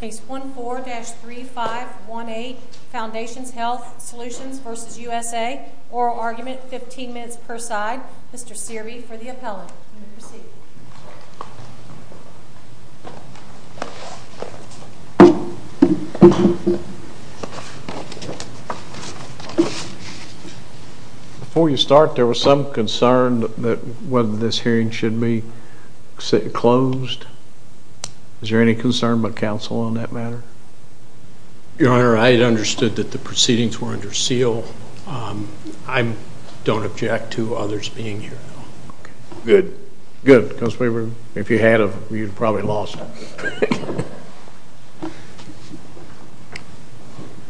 Case 14-3518 Foundations Health Solutions v. USA Oral argument, 15 minutes per side. Mr. Searby for the appellant. You may proceed. Before you start, there was some concern that whether this hearing should be closed. Is there any concern by counsel on that matter? Your Honor, I had understood that the proceedings were under seal. I don't object to others being here. Good. Good. If you had, you'd probably lost.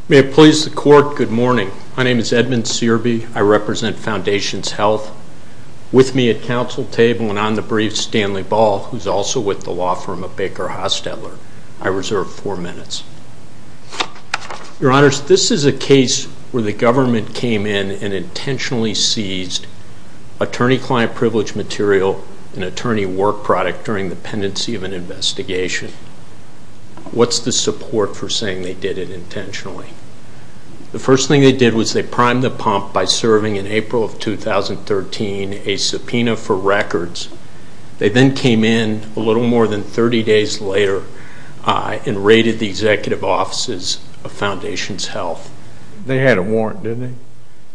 May it please the court, good morning. My name is Edmund Searby. I represent Foundations Health. With me at counsel table and on the brief, Stanley Ball, who's also with the law firm of Baker Hostetler. I reserve four minutes. Your Honor, this is a case where the government came in and intentionally seized attorney-client privilege material and attorney work product during the pendency of an investigation. What's the support for saying they did it intentionally? The first thing they did was they primed the pump by serving in April of 2013 a subpoena for records. They then came in a little more than 30 days later and raided the executive offices of Foundations Health. They had a warrant, didn't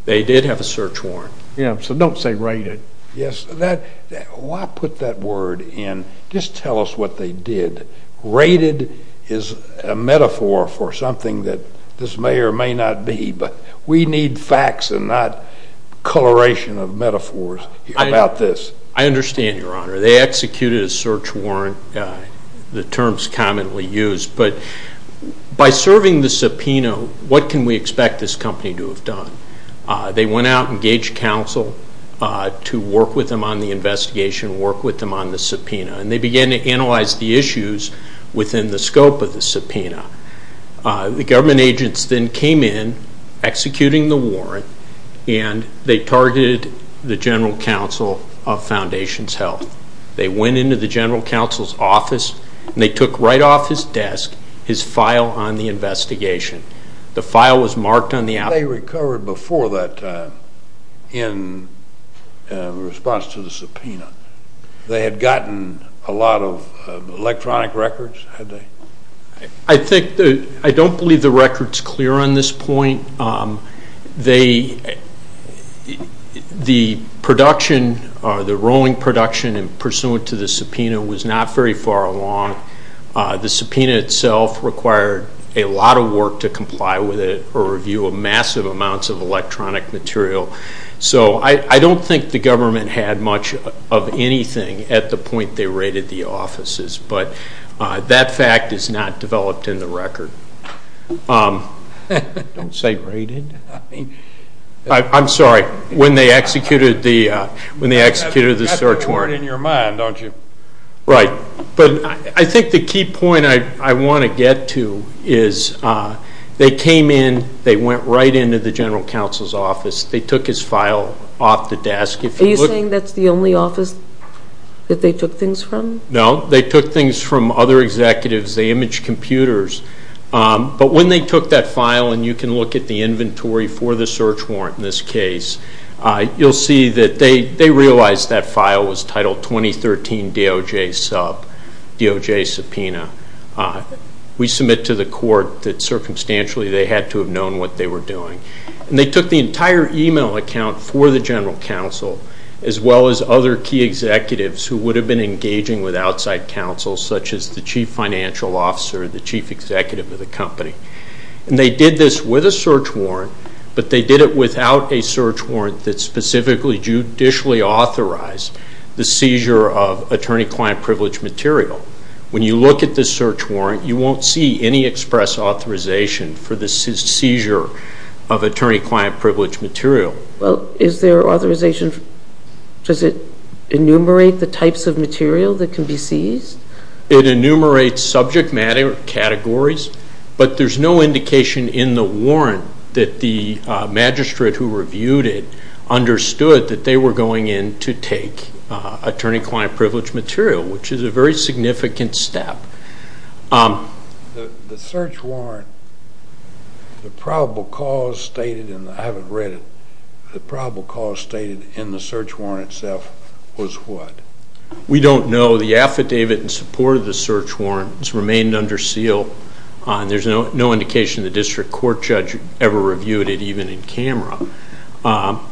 they? They did have a search warrant. Yeah, so don't say raided. Yes, why put that word in? Just tell us what they did. Raided is a metaphor for something that this may or may not be, but we need facts and not coloration of metaphors about this. I understand, Your Honor. They executed a search warrant, the terms commonly used, but by serving the subpoena, what can we expect this company to have done? They went out and gauged counsel to work with them on the investigation, work with them on the subpoena, and they began to analyze the issues within the scope of the subpoena. The government agents then came in, executing the warrant, and they targeted the general counsel of Foundations Health. They went into the general counsel's office and they took right off his desk his file on the investigation. The file was marked on the outside. They recovered before that in response to the subpoena. They had gotten a lot of electronic records, had they? I don't believe the record's clear on this point. The rolling production pursuant to the subpoena was not very far along. The subpoena itself required a lot of work to comply with it or review massive amounts of electronic material. So I don't think the government had much of anything at the point they raided the offices, but that fact is not developed in the record. Don't say raided. I'm sorry, when they executed the search warrant. You have the word in your mind, don't you? Right. But I think the key point I want to get to is they came in, they went right into the general counsel's office, they took his file off the desk. Are you saying that's the only office that they took things from? No. They took things from other executives. They imaged computers. But when they took that file, and you can look at the inventory for the search warrant in this case, you'll see that they realized that file was titled 2013 DOJ sub, DOJ subpoena. We submit to the court that circumstantially they had to have known what they were doing. And they took the entire email account for the general counsel, as well as other key executives who would have been engaging with outside counsel, such as the chief financial officer, the chief executive of the company. And they did this with a search warrant, but they did it without a search warrant that specifically judicially authorized the seizure of attorney-client privilege material. When you look at this search warrant, you won't see any express authorization for the seizure of attorney-client privilege material. Well, is there authorization? Does it enumerate the types of material that can be seized? It enumerates subject matter categories, but there's no indication in the warrant that the magistrate who reviewed it understood that they were going in to take attorney-client privilege material, which is a very significant step. The search warrant, the probable cause stated, and I haven't read it, the probable cause stated in the search warrant itself was what? We don't know. The affidavit in support of the search warrant has remained under seal, and there's no indication the district court judge ever reviewed it, even in camera.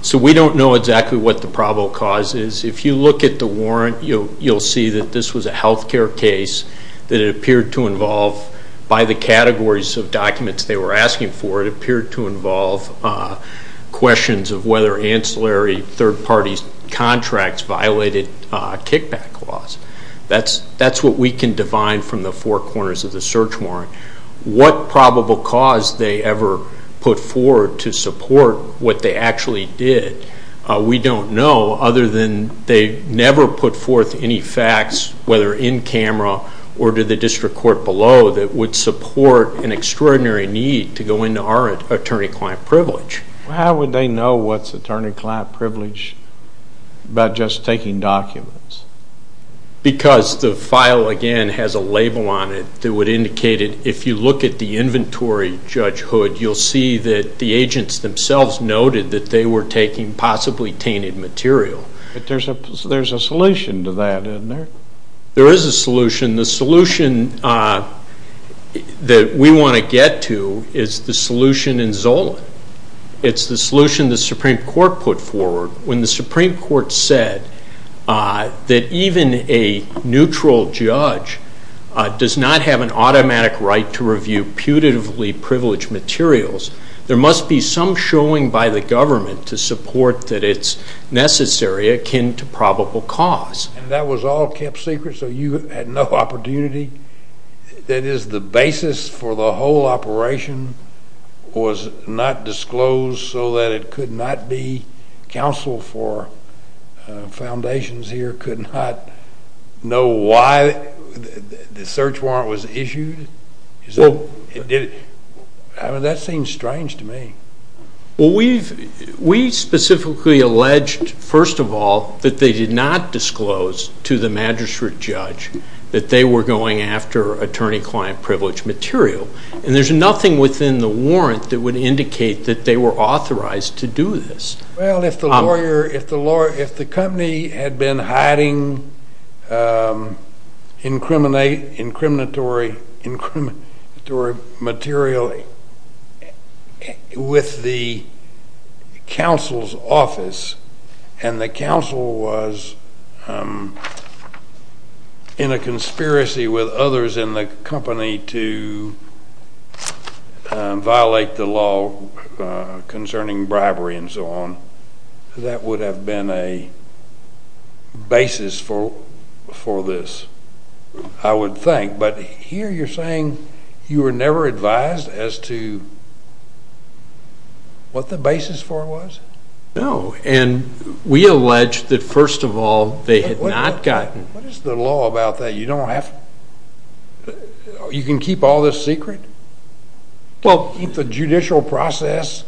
So we don't know exactly what the probable cause is. If you look at the warrant, you'll see that this was a health care case that it appeared to involve, by the categories of documents they were asking for, it appeared to involve questions of whether ancillary third-party contracts violated kickback laws. That's what we can define from the four corners of the search warrant. What probable cause they ever put forward to support what they actually did, we don't know other than they never put forth any facts, whether in camera or to the district court below, that would support an extraordinary need to go into our attorney-client privilege. How would they know what's attorney-client privilege about just taking documents? Because the file, again, has a label on it that would indicate it. If you look at the inventory, Judge Hood, you'll see that the agents themselves noted that they were taking possibly tainted material. But there's a solution to that, isn't there? There is a solution. The solution that we want to get to is the solution in Zola. It's the solution the Supreme Court put forward. When the Supreme Court said that even a neutral judge does not have an automatic right to review putatively privileged materials, there must be some showing by the government to support that it's necessary akin to probable cause. That was all kept secret so you had no opportunity? That is, the basis for the whole operation was not disclosed so that it could not be counsel for foundations here could not know why the search warrant was issued? That seems strange to me. We specifically alleged, first of all, that they did not disclose to the magistrate judge that they were going after attorney-client privilege material. There's nothing within the warrant that would indicate that they were authorized to do this. Well, if the company had been hiding incriminatory material with the counsel's office and the counsel was in a conspiracy with others in the company to violate the law concerning bribery and so on, that would have been a basis for this, I would think. But here you're saying you were never advised as to what the basis for it was? No, and we allege that, first of all, they had not gotten... What is the law about that? You don't have... you can keep all this secret? Well, the judicial process,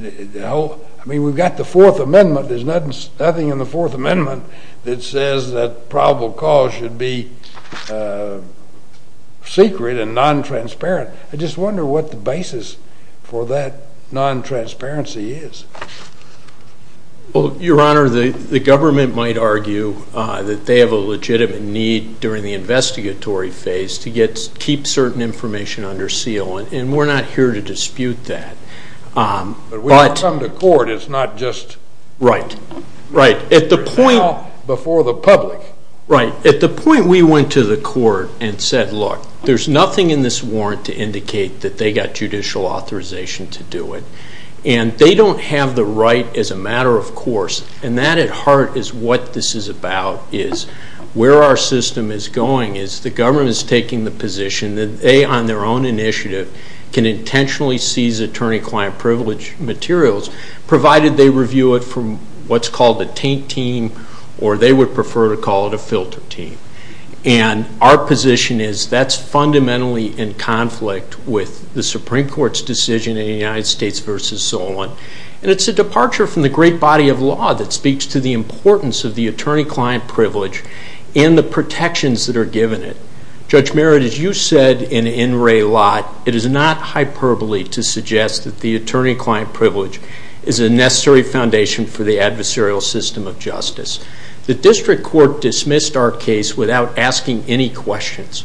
I mean, we've got the Fourth Amendment. There's nothing in the Fourth Amendment that says that probable cause should be secret and non-transparent. I just wonder what the basis for that non-transparency is. Well, Your Honor, the government might argue that they have a legitimate need during the investigatory phase to keep certain information under seal, and we're not here to dispute that. But when you come to court, it's not just... Right, right. At the point... It's now before the public. Right. At the point we went to the court and said, look, there's nothing in this warrant to indicate that they got judicial authorization to do it, and they don't have the right as a matter of course, and that at heart is what this is about, is where our system is going is the government is taking the position that they, on their own initiative, can intentionally seize attorney-client privilege materials, provided they review it from what's called a taint team, or they would prefer to call it a filter team. And our position is that's fundamentally in conflict with the Supreme Court's decision in the United States v. Solon, and it's a departure from the great body of law that speaks to the importance of the attorney-client privilege and the protections that are given it. Judge Merritt, as you said in In Re Lot, it is not hyperbole to suggest that the attorney-client privilege is a necessary foundation for the adversarial system of justice. The district court dismissed our case without asking any questions.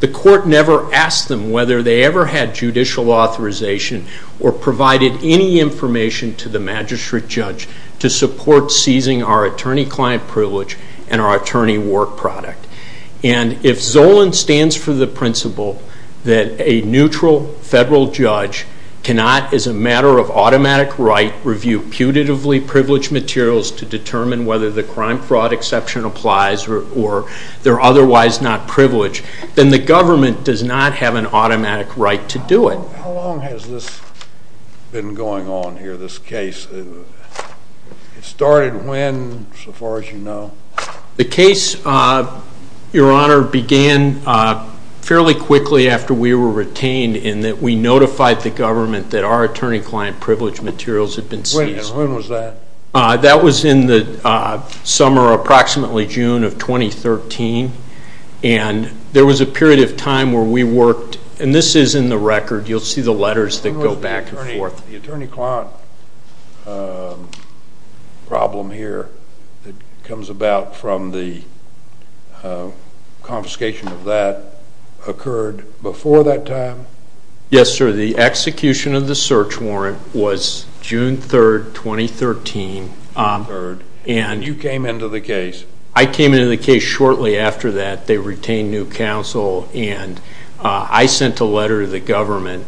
The court never asked them whether they ever had judicial authorization or provided any information to the magistrate judge to support seizing our attorney-client privilege and our attorney work product. And if Solon stands for the principle that a neutral federal judge cannot, as a matter of automatic right, review putatively privileged materials to determine whether the crime-fraud exception applies or they're otherwise not privileged, then the government does not have an automatic right to do it. How long has this been going on here, this case? It started when, so far as you know? The case, Your Honor, began fairly quickly after we were retained in that we notified the government that our attorney-client privilege materials had been seized. When was that? That was in the summer, approximately June of 2013, and there was a period of time where we worked, and this is in the record, you'll see the letters that go back and forth. The attorney-client problem here that comes about from the confiscation of that occurred before that time? Yes, sir. The execution of the search warrant was June 3, 2013. You came into the case? I came into the case shortly after that. They retained new counsel, and I sent a letter to the government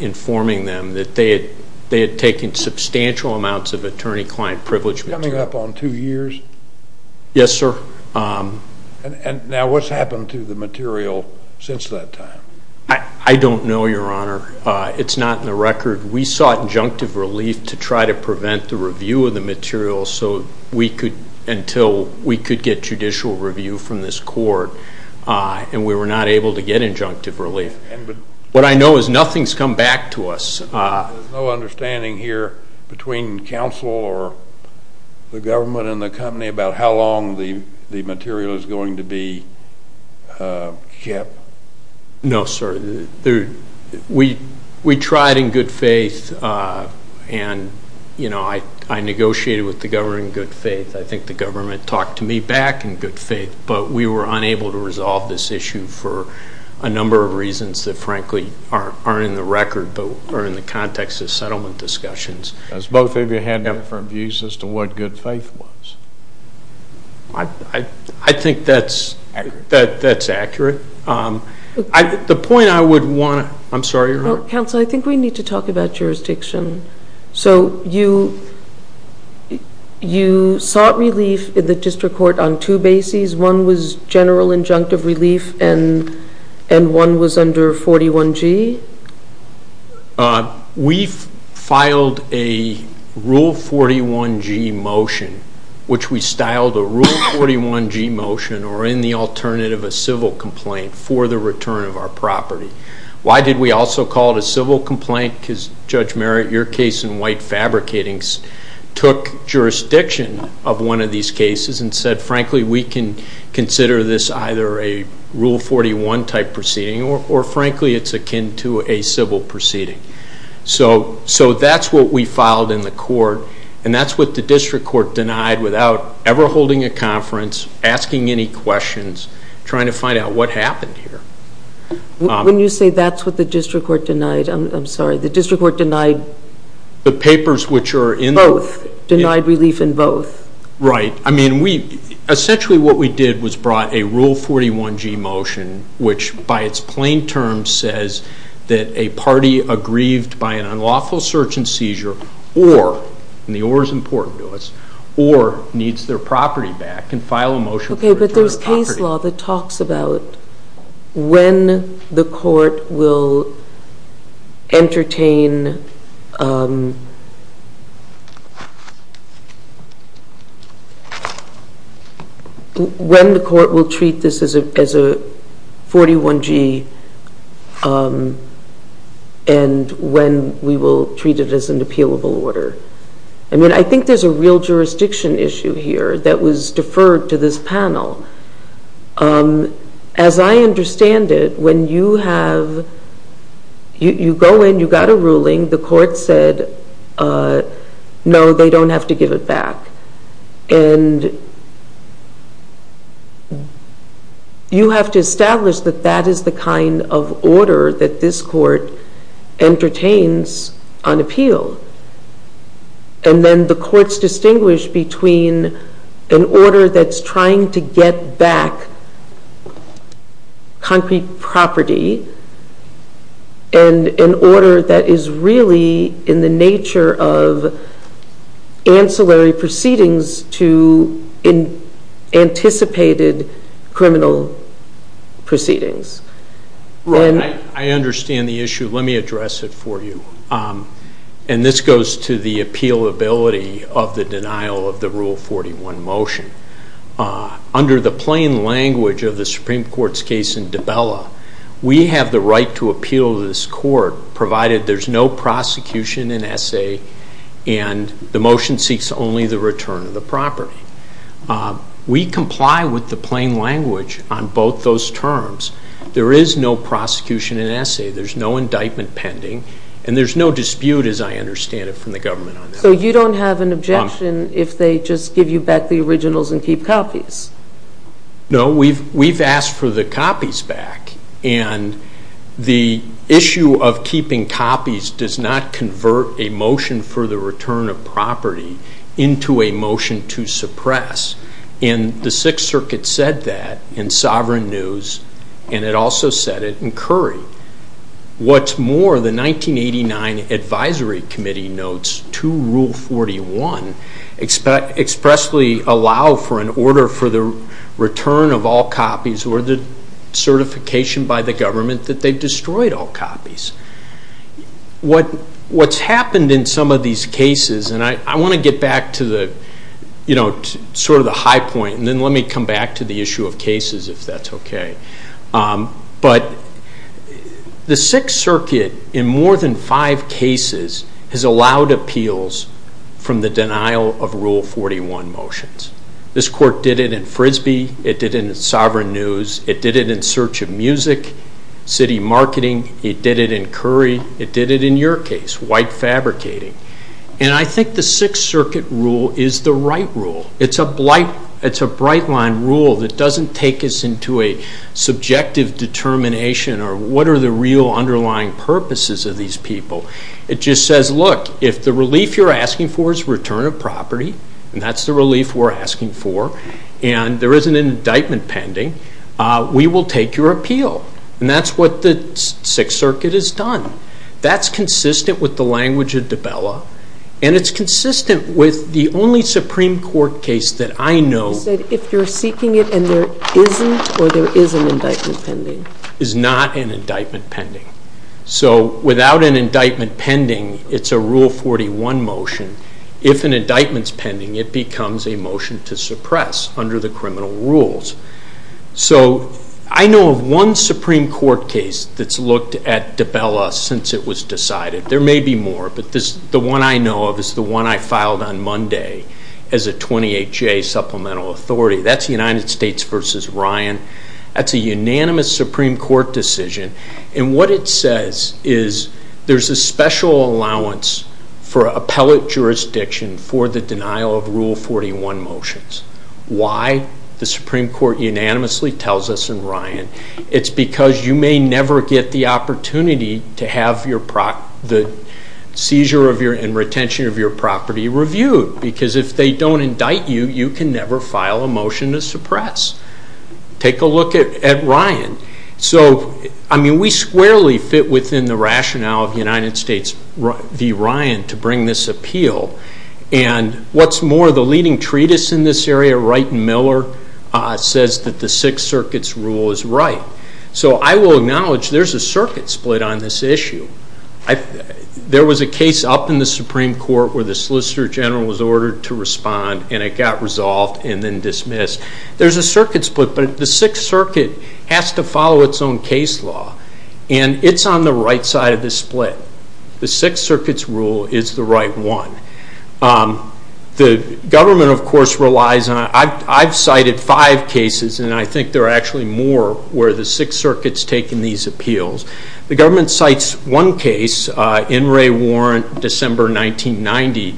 informing them that they had taken substantial amounts of attorney-client privilege material. Coming up on two years? Yes, sir. Now, what's happened to the material since that time? I don't know, Your Honor. It's not in the record. We sought injunctive relief to try to prevent the review of the material until we could get judicial review from this court, and we were not able to get injunctive relief. What I know is nothing's come back to us. There's no understanding here between counsel or the government and the company about how long the material is going to be kept? No, sir. We tried in good faith, and I negotiated with the government in good faith. But we were unable to resolve this issue for a number of reasons that, frankly, aren't in the record or in the context of settlement discussions. Because both of you had different views as to what good faith was. I think that's accurate. The point I would want to – I'm sorry, Your Honor. Counsel, I think we need to talk about jurisdiction. So you sought relief in the district court on two bases. One was general injunctive relief, and one was under 41G? We filed a Rule 41G motion, which we styled a Rule 41G motion or, in the alternative, a civil complaint for the return of our property. Why did we also call it a civil complaint? Because, Judge Merritt, your case in white fabricating took jurisdiction of one of these cases and said, frankly, we can consider this either a Rule 41 type proceeding or, frankly, it's akin to a civil proceeding. So that's what we filed in the court, and that's what the district court denied without ever holding a conference, asking any questions, trying to find out what happened here. When you say that's what the district court denied, I'm sorry. The district court denied both, denied relief in both. Right. I mean, essentially what we did was brought a Rule 41G motion, which by its plain terms says that a party aggrieved by an unlawful search and seizure or – and the or is important to us – or needs their property back can file a motion for return of property. This is a case law that talks about when the court will entertain – when the court will treat this as a 41G and when we will treat it as an appealable order. I mean, I think there's a real jurisdiction issue here that was deferred to this panel. As I understand it, when you have – you go in, you got a ruling, the court said, no, they don't have to give it back. And you have to establish that that is the kind of order that this court entertains on appeal. And then the courts distinguish between an order that's trying to get back concrete property and an order that is really in the nature of ancillary proceedings to anticipated criminal proceedings. I understand the issue. Let me address it for you. And this goes to the appealability of the denial of the Rule 41 motion. Under the plain language of the Supreme Court's case in Dabella, we have the right to appeal this court provided there's no prosecution in essay and the motion seeks only the return of the property. We comply with the plain language on both those terms. There is no prosecution in essay. There's no indictment pending. And there's no dispute, as I understand it, from the government on that. So you don't have an objection if they just give you back the originals and keep copies? No, we've asked for the copies back. And the issue of keeping copies does not convert a motion for the return of property into a motion to suppress. And the Sixth Circuit said that in Sovereign News, and it also said it in Curry. What's more, the 1989 Advisory Committee notes to Rule 41 expressly allow for an order for the return of all copies or the certification by the government that they've destroyed all copies. What's happened in some of these cases, and I want to get back to sort of the high point, and then let me come back to the issue of cases, if that's okay. But the Sixth Circuit, in more than five cases, has allowed appeals from the denial of Rule 41 motions. This court did it in Frisbee. It did it in Sovereign News. It did it in Search of Music, City Marketing. It did it in Curry. It did it in your case, White Fabricating. And I think the Sixth Circuit rule is the right rule. It's a bright-line rule that doesn't take us into a subjective determination or what are the real underlying purposes of these people. It just says, look, if the relief you're asking for is return of property, and that's the relief we're asking for, and there isn't an indictment pending, we will take your appeal. And that's what the Sixth Circuit has done. That's consistent with the language of Dabella, and it's consistent with the only Supreme Court case that I know of. You said if you're seeking it and there isn't or there is an indictment pending. Is not an indictment pending. So without an indictment pending, it's a Rule 41 motion. If an indictment's pending, it becomes a motion to suppress under the criminal rules. So I know of one Supreme Court case that's looked at Dabella since it was decided. There may be more, but the one I know of is the one I filed on Monday as a 28-J supplemental authority. That's United States v. Ryan. That's a unanimous Supreme Court decision, and what it says is there's a special allowance for appellate jurisdiction for the denial of Rule 41 motions. Why? The Supreme Court unanimously tells us in Ryan. It's because you may never get the opportunity to have the seizure and retention of your property reviewed, because if they don't indict you, you can never file a motion to suppress. Take a look at Ryan. So, I mean, we squarely fit within the rationale of United States v. Ryan to bring this appeal, and what's more, the leading treatise in this area, Wright and Miller, says that the Sixth Circuit's rule is right. So I will acknowledge there's a circuit split on this issue. There was a case up in the Supreme Court where the Solicitor General was ordered to respond, and it got resolved and then dismissed. There's a circuit split, but the Sixth Circuit has to follow its own case law, and it's on the right side of the split. The Sixth Circuit's rule is the right one. The government, of course, relies on it. I've cited five cases, and I think there are actually more where the Sixth Circuit's taking these appeals. The government cites one case, In re Warrant, December 1990.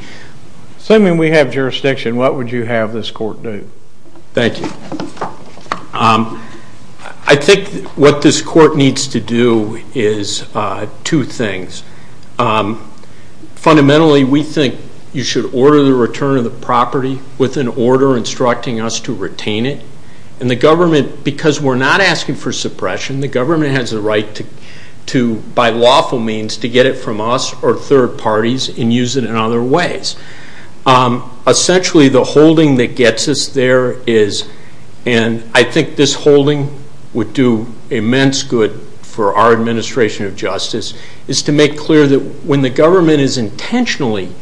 Assuming we have jurisdiction, what would you have this court do? Thank you. I think what this court needs to do is two things. Fundamentally, we think you should order the return of the property with an order instructing us to retain it, and the government, because we're not asking for suppression, the government has the right to, by lawful means, to get it from us or third parties and use it in other ways. Essentially, the holding that gets us there is, and I think this holding would do immense good for our administration of justice, is to make clear that when the government is intentionally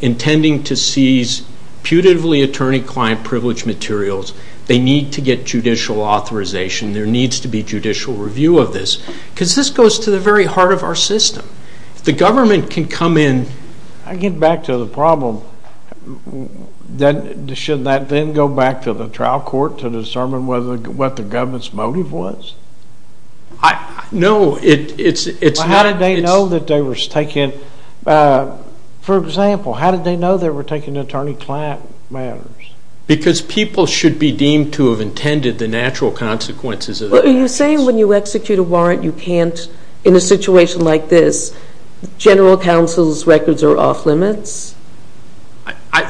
intending to seize putatively attorney-client privileged materials, they need to get judicial authorization. There needs to be judicial review of this because this goes to the very heart of our system. If the government can come in... I get back to the problem. Shouldn't that then go back to the trial court to determine what the government's motive was? No, it's... How did they know that they were taking... For example, how did they know they were taking attorney-client matters? Because people should be deemed to have intended the natural consequences... Are you saying when you execute a warrant you can't, in a situation like this, general counsel's records are off limits?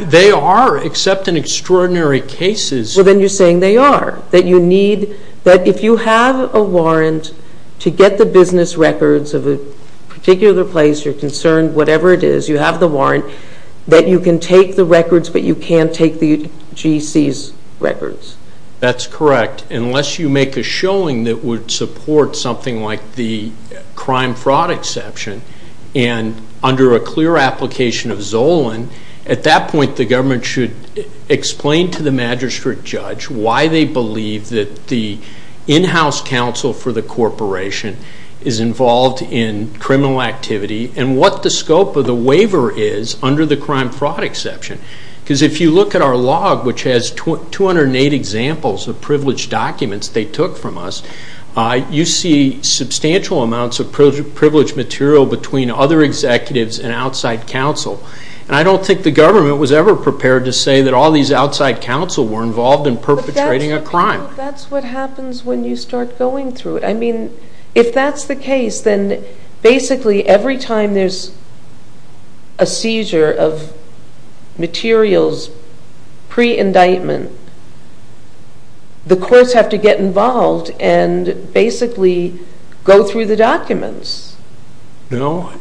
They are, except in extraordinary cases. Well, then you're saying they are, that you need... That if you have a warrant to get the business records of a particular place, you're concerned, whatever it is, you have the warrant, that you can take the records but you can't take the GC's records? That's correct, unless you make a showing that would support something like the crime-fraud exception. And under a clear application of Zolan, at that point the government should explain to the magistrate judge why they believe that the in-house counsel for the corporation is involved in criminal activity and what the scope of the waiver is under the crime-fraud exception. Because if you look at our log, which has 208 examples of privileged documents they took from us, you see substantial amounts of privileged material between other executives and outside counsel. And I don't think the government was ever prepared to say that all these outside counsel were involved in perpetrating a crime. But that's what happens when you start going through it. I mean, if that's the case, then basically every time there's a seizure of materials pre-indictment, the courts have to get involved and basically go through the documents. No,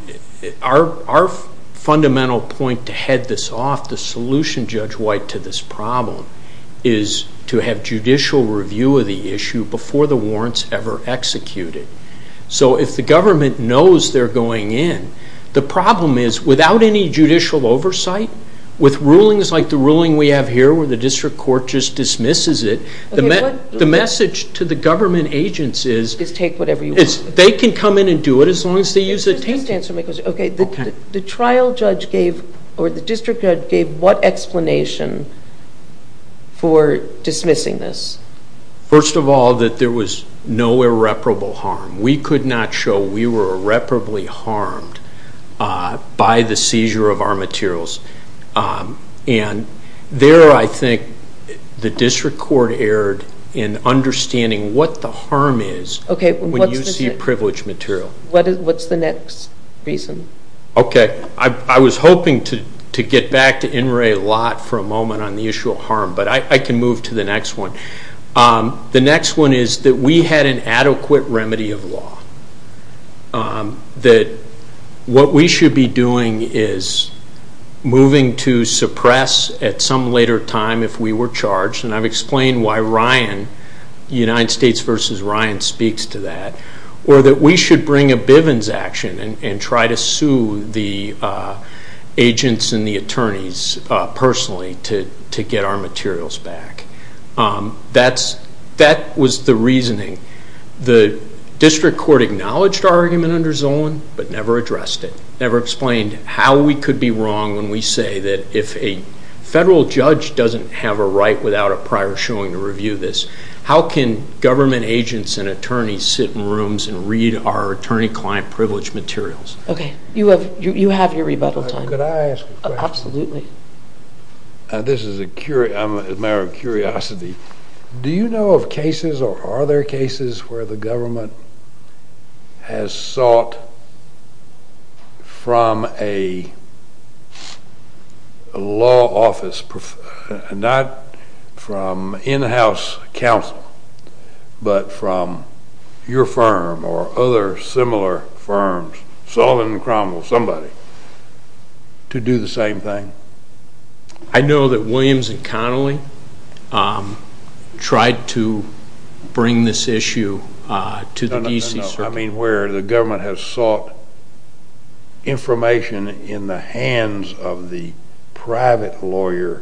our fundamental point to head this off, the solution, Judge White, to this problem is to have judicial review of the issue before the warrants ever execute it. So if the government knows they're going in, the problem is without any judicial oversight, with rulings like the ruling we have here where the district court just dismisses it, the message to the government agents is they can come in and do it. As long as they use the tape. Just answer my question. Okay. The trial judge gave or the district judge gave what explanation for dismissing this? First of all, that there was no irreparable harm. We could not show we were irreparably harmed by the seizure of our materials. And there I think the district court erred in understanding what the harm is when you see privileged material. What's the next reason? Okay. I was hoping to get back to In re lot for a moment on the issue of harm, but I can move to the next one. The next one is that we had an adequate remedy of law. That what we should be doing is moving to suppress at some later time if we were charged, and I've explained why Ryan, United States versus Ryan, speaks to that. Or that we should bring a Bivens action and try to sue the agents and the attorneys personally to get our materials back. That was the reasoning. The district court acknowledged our argument under Zolan, but never addressed it, never explained how we could be wrong when we say that if a federal judge doesn't have a right without a prior showing to review this, how can government agents and attorneys sit in rooms and read our attorney-client privileged materials? Okay. You have your rebuttal time. Could I ask a question? Absolutely. This is a matter of curiosity. Do you know of cases or are there cases where the government has sought from a law office, not from in-house counsel, but from your firm or other similar firms, Zolan and Cromwell, somebody, to do the same thing? I know that Williams and Connolly tried to bring this issue to the D.C. Circuit. I mean where the government has sought information in the hands of the private lawyer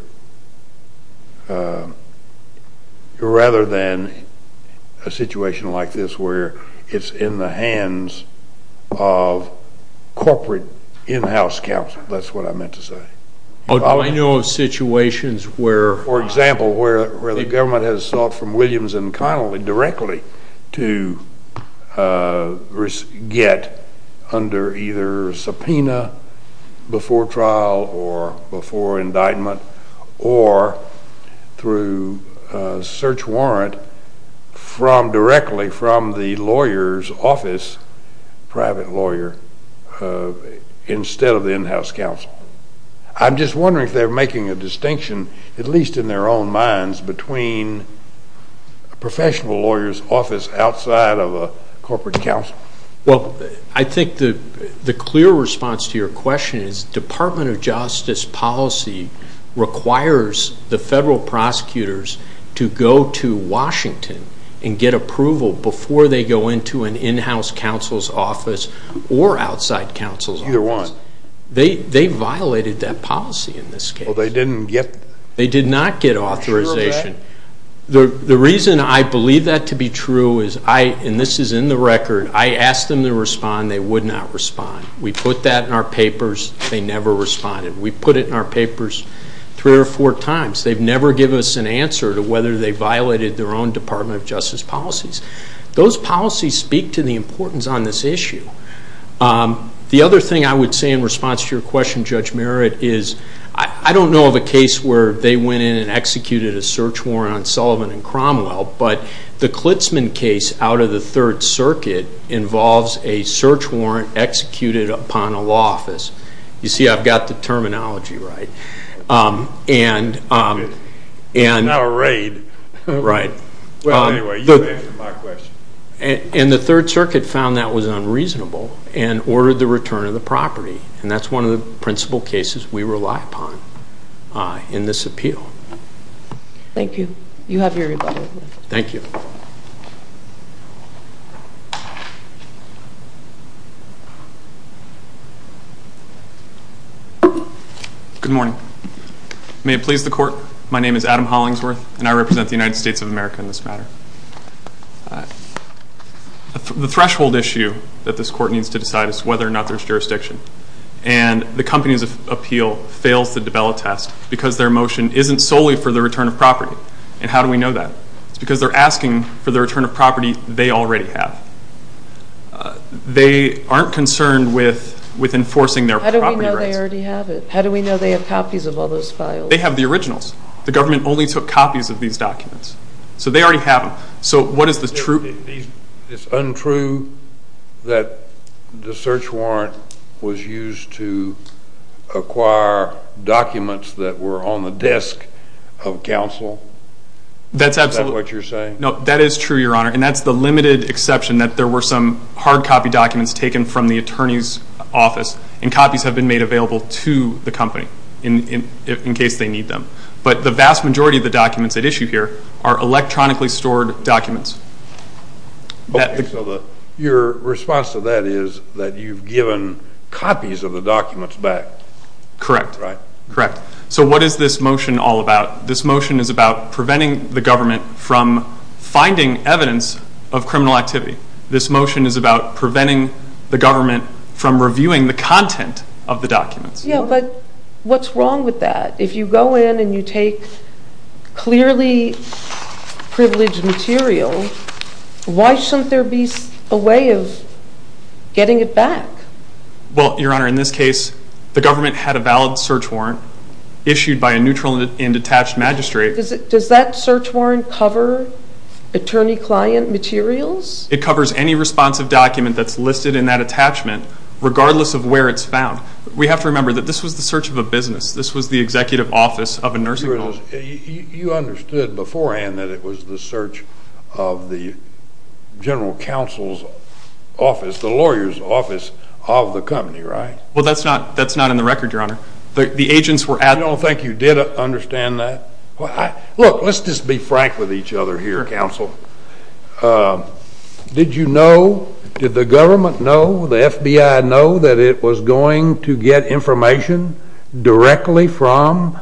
rather than a situation like this where it's in the hands of corporate in-house counsel. That's what I meant to say. Do you know of situations where the government has sought from Williams and Connolly directly to get under either subpoena before trial or before indictment or through a search warrant directly from the lawyer's office, private lawyer, instead of the in-house counsel? I'm just wondering if they're making a distinction, at least in their own minds, between a professional lawyer's office outside of a corporate counsel? Well, I think the clear response to your question is Department of Justice policy requires the federal prosecutors to go to Washington and get approval before they go into an in-house counsel's office or outside counsel's office. Either one. They violated that policy in this case. Well, they didn't get... The reason I believe that to be true is I, and this is in the record, I asked them to respond. They would not respond. We put that in our papers. They never responded. We put it in our papers three or four times. They've never given us an answer to whether they violated their own Department of Justice policies. Those policies speak to the importance on this issue. The other thing I would say in response to your question, Judge Merritt, is I don't know of a case where they went in and executed a search warrant on Sullivan and Cromwell, but the Klitzman case out of the Third Circuit involves a search warrant executed upon a law office. You see I've got the terminology right. Not a raid. Right. Well, anyway, you answered my question. And the Third Circuit found that was unreasonable and ordered the return of the property, and that's one of the principal cases we rely upon in this appeal. Thank you. You have your rebuttal. Thank you. Good morning. May it please the Court, my name is Adam Hollingsworth, and I represent the United States of America in this matter. The threshold issue that this Court needs to decide is whether or not there's jurisdiction. And the company's appeal fails to develop a test because their motion isn't solely for the return of property. And how do we know that? It's because they're asking for the return of property they already have. They aren't concerned with enforcing their property rights. How do we know they already have it? How do we know they have copies of all those files? They have the originals. The government only took copies of these documents. So they already have them. So what is the truth? It's untrue that the search warrant was used to acquire documents that were on the desk of counsel? That's absolutely. Is that what you're saying? No, that is true, Your Honor, and that's the limited exception that there were some hard copy documents taken from the attorney's office, and copies have been made available to the company in case they need them. But the vast majority of the documents at issue here are electronically stored documents. Okay. So your response to that is that you've given copies of the documents back? Correct. Right. Correct. So what is this motion all about? This motion is about preventing the government from finding evidence of criminal activity. This motion is about preventing the government from reviewing the content of the documents. Yeah, but what's wrong with that? If you go in and you take clearly privileged material, why shouldn't there be a way of getting it back? Well, Your Honor, in this case, the government had a valid search warrant issued by a neutral and detached magistrate. Does that search warrant cover attorney-client materials? It covers any responsive document that's listed in that attachment regardless of where it's found. We have to remember that this was the search of a business. This was the executive office of a nursing home. You understood beforehand that it was the search of the general counsel's office, the lawyer's office of the company, right? Well, that's not in the record, Your Honor. The agents were at the agency. You don't think you did understand that? Look, let's just be frank with each other here, counsel. Did you know, did the government know, the FBI know that it was going to get information directly from,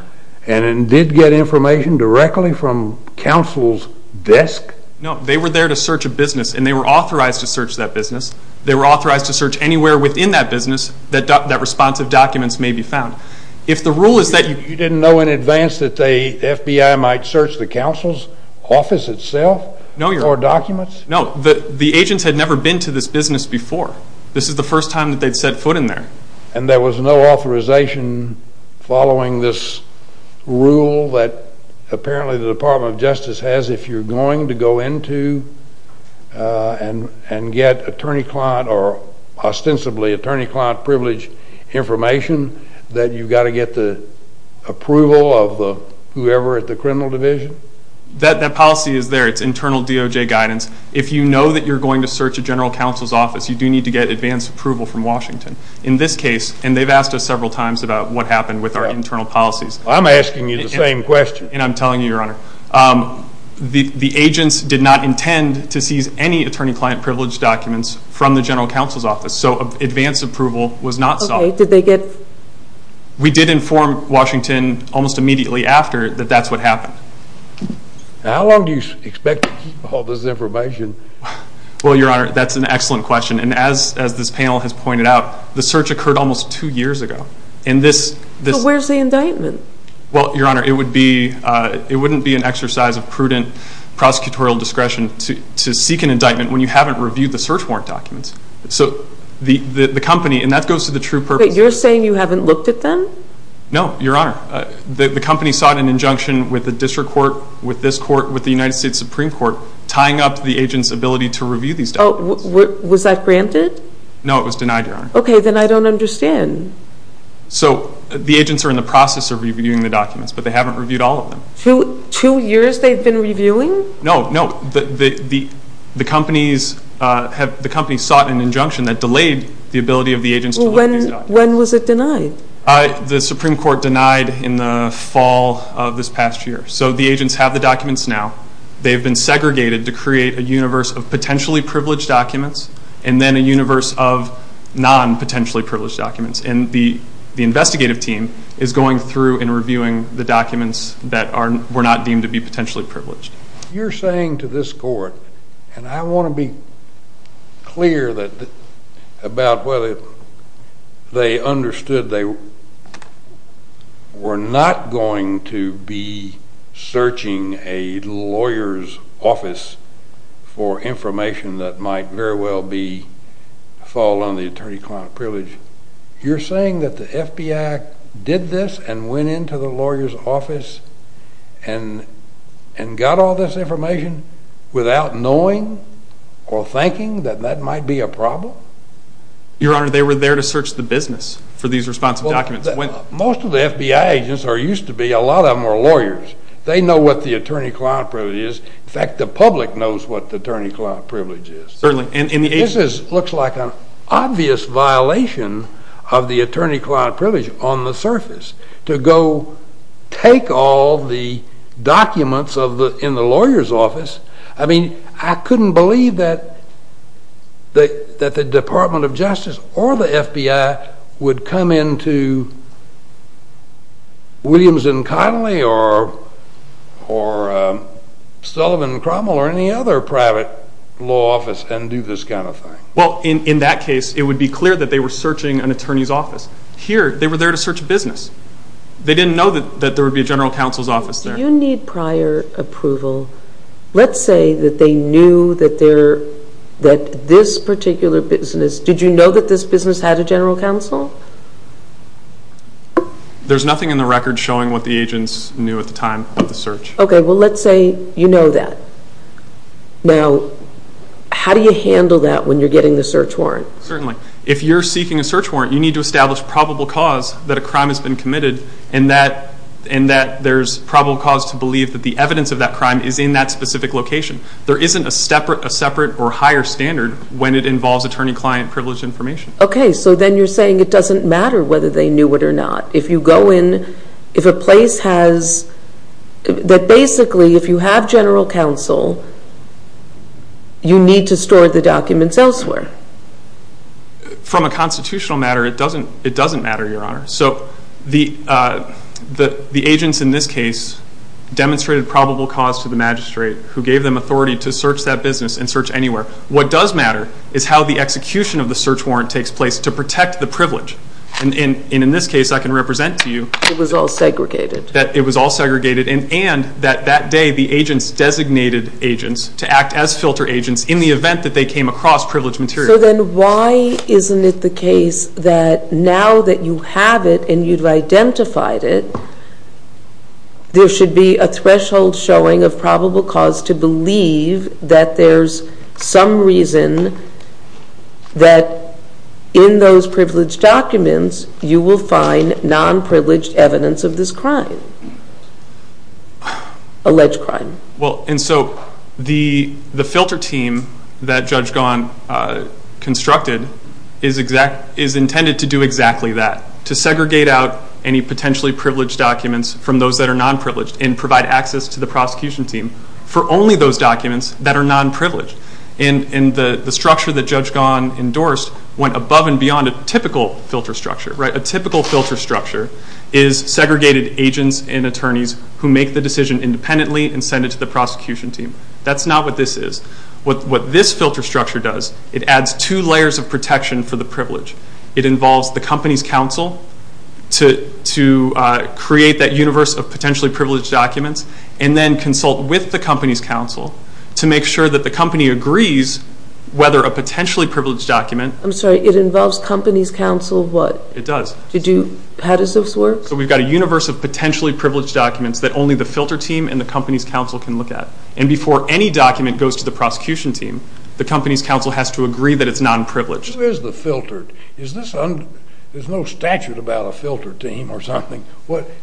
and it did get information directly from, counsel's desk? No, they were there to search a business, and they were authorized to search that business. They were authorized to search anywhere within that business that responsive documents may be found. You didn't know in advance that the FBI might search the counsel's office itself? No, Your Honor. Or documents? No, the agents had never been to this business before. This is the first time that they'd set foot in there. And there was no authorization following this rule that apparently the Department of Justice has, if you're going to go into and get attorney-client or ostensibly attorney-client privilege information, that you've got to get the approval of whoever at the criminal division? That policy is there. It's internal DOJ guidance. If you know that you're going to search a general counsel's office, you do need to get advance approval from Washington. In this case, and they've asked us several times about what happened with our internal policies. I'm asking you the same question. And I'm telling you, Your Honor, the agents did not intend to seize any attorney-client privilege documents from the general counsel's office. So advance approval was not sought. Okay, did they get? We did inform Washington almost immediately after that that's what happened. How long do you expect to keep all this information? Well, Your Honor, that's an excellent question. And as this panel has pointed out, the search occurred almost two years ago. So where's the indictment? Well, Your Honor, it wouldn't be an exercise of prudent prosecutorial discretion to seek an indictment when you haven't reviewed the search warrant documents. So the company, and that goes to the true purpose. You're saying you haven't looked at them? No, Your Honor. The company sought an injunction with the district court, with this court, with the United States Supreme Court, tying up the agent's ability to review these documents. Was that granted? No, it was denied, Your Honor. Okay, then I don't understand. So the agents are in the process of reviewing the documents, but they haven't reviewed all of them. Two years they've been reviewing? No, no. The companies sought an injunction that delayed the ability of the agents to look at these documents. When was it denied? The Supreme Court denied in the fall of this past year. So the agents have the documents now. They've been segregated to create a universe of potentially privileged documents and then a universe of non-potentially privileged documents. And the investigative team is going through and reviewing the documents that were not deemed to be potentially privileged. You're saying to this court, and I want to be clear about whether they understood they were not going to be searching a lawyer's office for information that might very well fall under the attorney-client privilege. You're saying that the FBI did this and went into the lawyer's office and got all this information without knowing or thinking that that might be a problem? Your Honor, they were there to search the business for these responsive documents. Most of the FBI agents, or used to be, a lot of them were lawyers. They know what the attorney-client privilege is. In fact, the public knows what the attorney-client privilege is. Certainly. This looks like an obvious violation of the attorney-client privilege on the surface, to go take all the documents in the lawyer's office. I mean, I couldn't believe that the Department of Justice or the FBI would come into Williams and Connolly or Sullivan and Cromwell or any other private law office and do this kind of thing. Well, in that case, it would be clear that they were searching an attorney's office. Here, they were there to search a business. They didn't know that there would be a general counsel's office there. If you need prior approval, let's say that they knew that this particular business, did you know that this business had a general counsel? There's nothing in the record showing what the agents knew at the time of the search. Okay, well, let's say you know that. Now, how do you handle that when you're getting the search warrant? Certainly. If you're seeking a search warrant, you need to establish probable cause that a crime has been committed and that there's probable cause to believe that the evidence of that crime is in that specific location. There isn't a separate or higher standard when it involves attorney-client privilege information. Okay, so then you're saying it doesn't matter whether they knew it or not. If you go in, if a place has, that basically if you have general counsel, you need to store the documents elsewhere. From a constitutional matter, it doesn't matter, Your Honor. So, the agents in this case demonstrated probable cause to the magistrate who gave them authority to search that business and search anywhere. What does matter is how the execution of the search warrant takes place to protect the privilege. And in this case, I can represent to you. It was all segregated. It was all segregated, and that day the agents designated agents to act as filter agents in the event that they came across privileged material. So then why isn't it the case that now that you have it and you've identified it, there should be a threshold showing of probable cause to believe that there's some reason that in those privileged documents, you will find non-privileged evidence of this crime, alleged crime. Well, and so the filter team that Judge Gahan constructed is intended to do exactly that, to segregate out any potentially privileged documents from those that are non-privileged and provide access to the prosecution team for only those documents that are non-privileged. And the structure that Judge Gahan endorsed went above and beyond a typical filter structure. A typical filter structure is segregated agents and attorneys who make the decision independently and send it to the prosecution team. That's not what this is. What this filter structure does, it adds two layers of protection for the privilege. It involves the company's counsel to create that universe of potentially privileged documents and then consult with the company's counsel to make sure that the company agrees whether a potentially privileged document... I'm sorry, it involves company's counsel what? It does. How does this work? So we've got a universe of potentially privileged documents that only the filter team and the company's counsel can look at. And before any document goes to the prosecution team, the company's counsel has to agree that it's non-privileged. Who is the filtered? There's no statute about a filter team or something.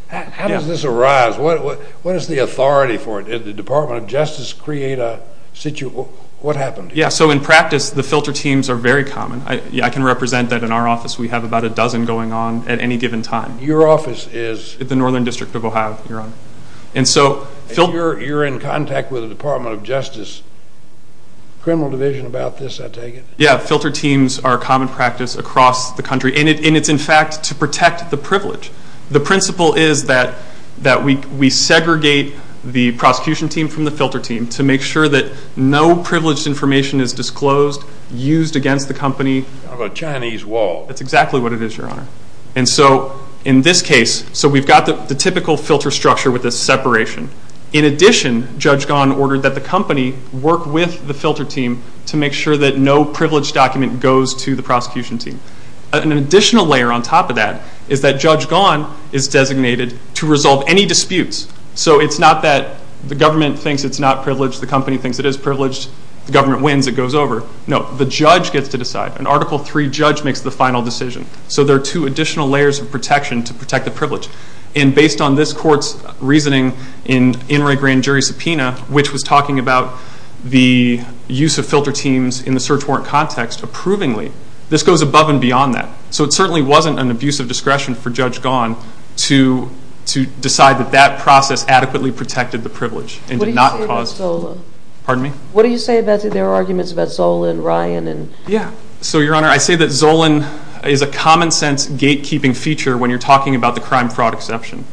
How does this arise? What is the authority for it? Did the Department of Justice create a situation? What happened here? Yeah, so in practice, the filter teams are very common. I can represent that in our office. We have about a dozen going on at any given time. Your office is? The Northern District of Ohio, Your Honor. And you're in contact with the Department of Justice? Criminal Division about this, I take it? Yeah, filter teams are a common practice across the country. And it's, in fact, to protect the privilege. The principle is that we segregate the prosecution team from the filter team to make sure that no privileged information is disclosed, used against the company. Kind of a Chinese wall. That's exactly what it is, Your Honor. And so in this case, so we've got the typical filter structure with a separation. In addition, Judge Gahan ordered that the company work with the filter team to make sure that no privileged document goes to the prosecution team. An additional layer on top of that is that Judge Gahan is designated to resolve any disputes. So it's not that the government thinks it's not privileged, the company thinks it is privileged, the government wins, it goes over. No, the judge gets to decide. An Article III judge makes the final decision. So there are two additional layers of protection to protect the privilege. And based on this court's reasoning in In re Grand Jury Subpoena, which was talking about the use of filter teams in the search warrant context approvingly, this goes above and beyond that. So it certainly wasn't an abuse of discretion for Judge Gahan to decide that that process adequately protected the privilege and did not cause... What do you say about Zola? Pardon me? What do you say about their arguments about Zola and Ryan and... Yeah, so Your Honor, I say that Zola is a common sense gatekeeping feature when you're talking about the crime fraud exception.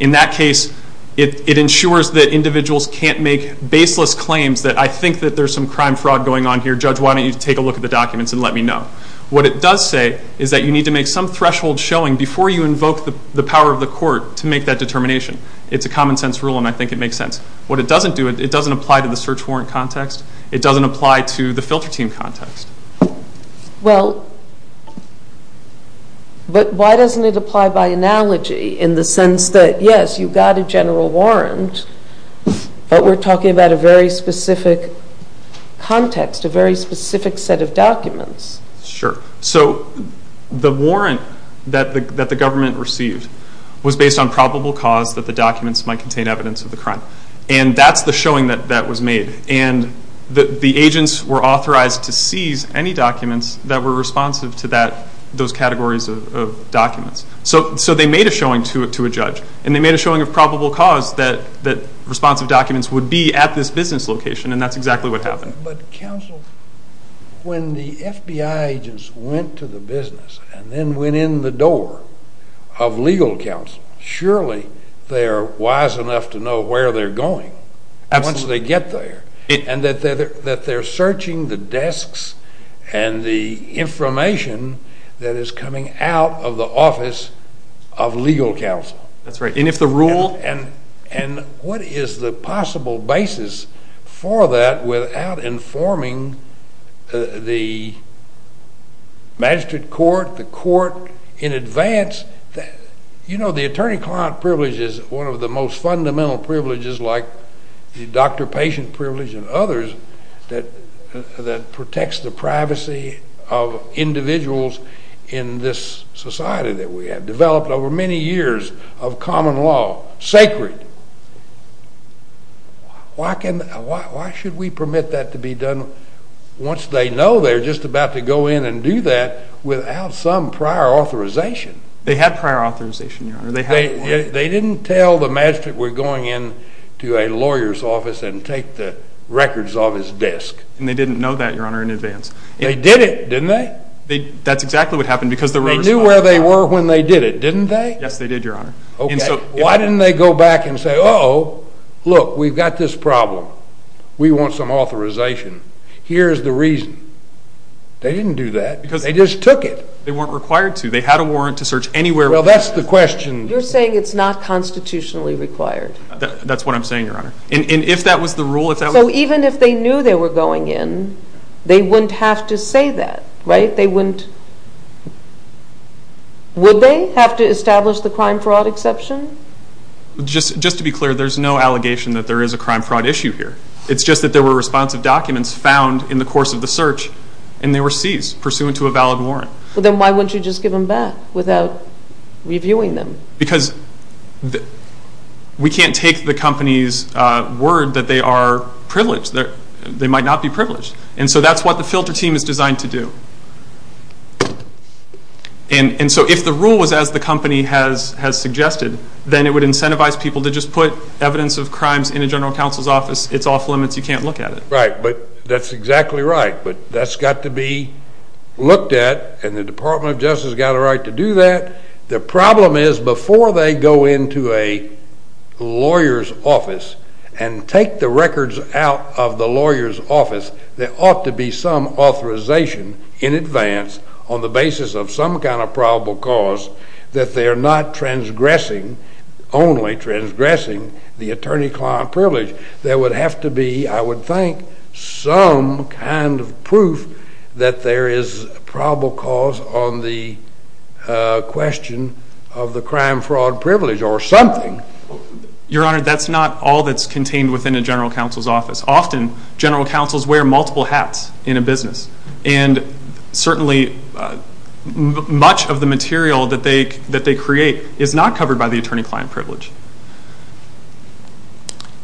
In that case, it ensures that individuals can't make baseless claims that I think that there's some crime fraud going on here. Judge, why don't you take a look at the documents and let me know. What it does say is that you need to make some threshold showing before you invoke the power of the court to make that determination. It's a common sense rule and I think it makes sense. What it doesn't do, it doesn't apply to the search warrant context. It doesn't apply to the filter team context. Well, but why doesn't it apply by analogy in the sense that, yes, you've got a general warrant, but we're talking about a very specific context, a very specific set of documents. Sure. So the warrant that the government received was based on probable cause that the documents might contain evidence of the crime. And that's the showing that was made. And the agents were authorized to seize any documents that were responsive to those categories of documents. So they made a showing to a judge. And they made a showing of probable cause that responsive documents would be at this business location. And that's exactly what happened. But counsel, when the FBI agents went to the business and then went in the door of legal counsel, surely they are wise enough to know where they're going once they get there. Absolutely. And that they're searching the desks and the information that is coming out of the office of legal counsel. That's right. And what is the possible basis for that without informing the magistrate court, the court in advance? You know, the attorney-client privilege is one of the most fundamental privileges, like the doctor-patient privilege and others, that protects the privacy of individuals in this society that we have developed over many years of common law, sacred. Why should we permit that to be done once they know they're just about to go in and do that without some prior authorization? They didn't tell the magistrate we're going in to a lawyer's office and take the records off his desk. And they didn't know that, Your Honor, in advance. They did it, didn't they? That's exactly what happened because the road was fine. They knew where they were when they did it, didn't they? Yes, they did, Your Honor. Okay. Why didn't they go back and say, uh-oh, look, we've got this problem. We want some authorization. Here's the reason. They didn't do that. They just took it. They weren't required to. They had a warrant to search anywhere. Well, that's the question. You're saying it's not constitutionally required. That's what I'm saying, Your Honor. And if that was the rule, if that was the rule. So even if they knew they were going in, they wouldn't have to say that, right? They wouldn't. Would they have to establish the crime-fraud exception? Just to be clear, there's no allegation that there is a crime-fraud issue here. It's just that there were responsive documents found in the course of the search, and they were seized pursuant to a valid warrant. Well, then why wouldn't you just give them back without reviewing them? Because we can't take the company's word that they are privileged. They might not be privileged. And so that's what the filter team is designed to do. And so if the rule was as the company has suggested, then it would incentivize people to just put evidence of crimes in a general counsel's office. It's off limits. You can't look at it. Right. But that's exactly right. But that's got to be looked at, and the Department of Justice has got a right to do that. The problem is before they go into a lawyer's office and take the records out of the lawyer's office, there ought to be some authorization in advance on the basis of some kind of probable cause that they are not transgressing, only transgressing, the attorney-client privilege. There would have to be, I would think, some kind of proof that there is a probable cause on the question of the crime-fraud privilege or something. Your Honor, that's not all that's contained within a general counsel's office. Often general counsels wear multiple hats in a business, and certainly much of the material that they create is not covered by the attorney-client privilege.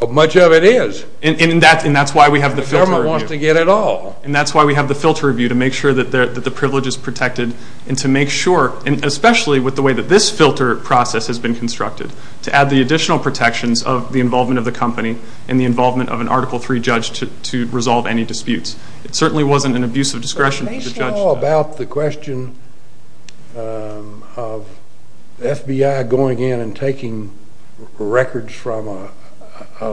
Much of it is. And that's why we have the filter review. The government wants to get it all. And that's why we have the filter review, to make sure that the privilege is protected and to make sure, especially with the way that this filter process has been constructed, to add the additional protections of the involvement of the company and the involvement of an Article III judge to resolve any disputes. It certainly wasn't an abuse of discretion for the judge. Is the case law about the question of the FBI going in and taking records from a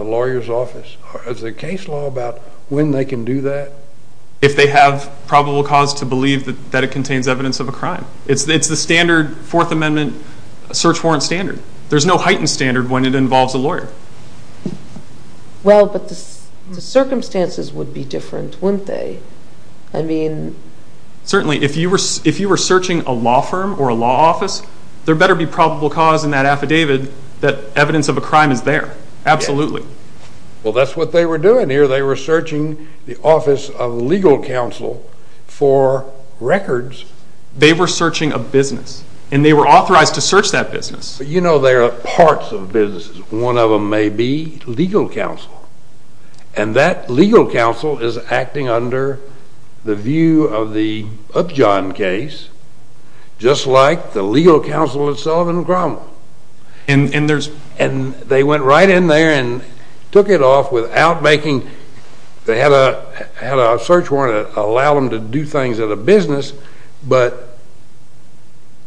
lawyer's office? Is the case law about when they can do that? If they have probable cause to believe that it contains evidence of a crime. It's the standard Fourth Amendment search warrant standard. There's no heightened standard when it involves a lawyer. Well, but the circumstances would be different, wouldn't they? Certainly. If you were searching a law firm or a law office, there better be probable cause in that affidavit that evidence of a crime is there. Absolutely. Well, that's what they were doing here. They were searching the office of legal counsel for records. They were searching a business. And they were authorized to search that business. But you know there are parts of businesses. One of them may be legal counsel. And that legal counsel is acting under the view of the Upjohn case, just like the legal counsel itself in the crime law. And they went right in there and took it off without making – they had a search warrant to allow them to do things at a business, but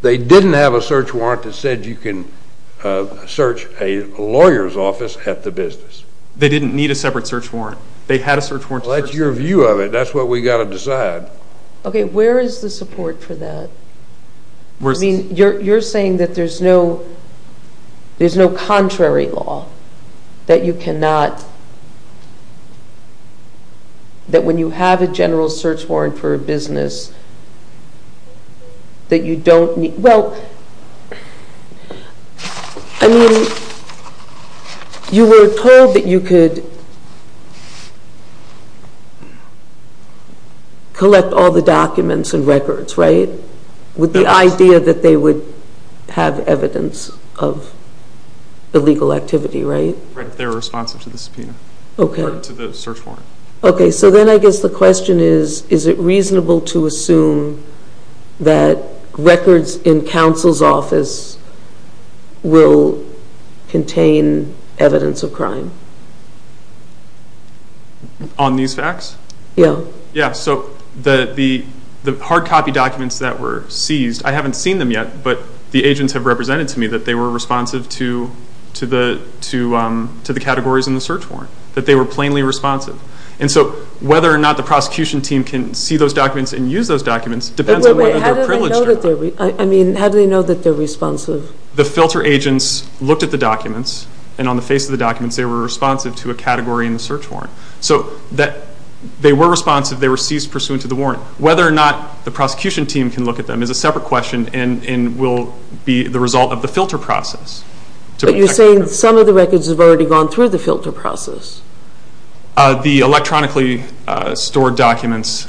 they didn't have a search warrant that said you can search a lawyer's office at the business. They didn't need a separate search warrant. They had a search warrant. Well, that's your view of it. That's what we've got to decide. Okay. Where is the support for that? I mean, you're saying that there's no contrary law, that you cannot – that when you have a general search warrant for a business that you don't need – Well, I mean, you were told that you could collect all the documents and records, right? With the idea that they would have evidence of illegal activity, right? Right, if they were responsive to the subpoena. Okay. Or to the search warrant. Okay, so then I guess the question is, is it reasonable to assume that records in counsel's office will contain evidence of crime? On these facts? Yeah. Yeah, so the hard copy documents that were seized, I haven't seen them yet, but the agents have represented to me that they were responsive to the categories in the search warrant, that they were plainly responsive. And so whether or not the prosecution team can see those documents and use those documents depends on whether they're privileged or not. Wait, wait, how do they know that they're – I mean, how do they know that they're responsive? The filter agents looked at the documents, and on the face of the documents, they were responsive to a category in the search warrant. So they were responsive, they were seized pursuant to the warrant. Whether or not the prosecution team can look at them is a separate question and will be the result of the filter process. But you're saying some of the records have already gone through the filter process. The electronically stored documents,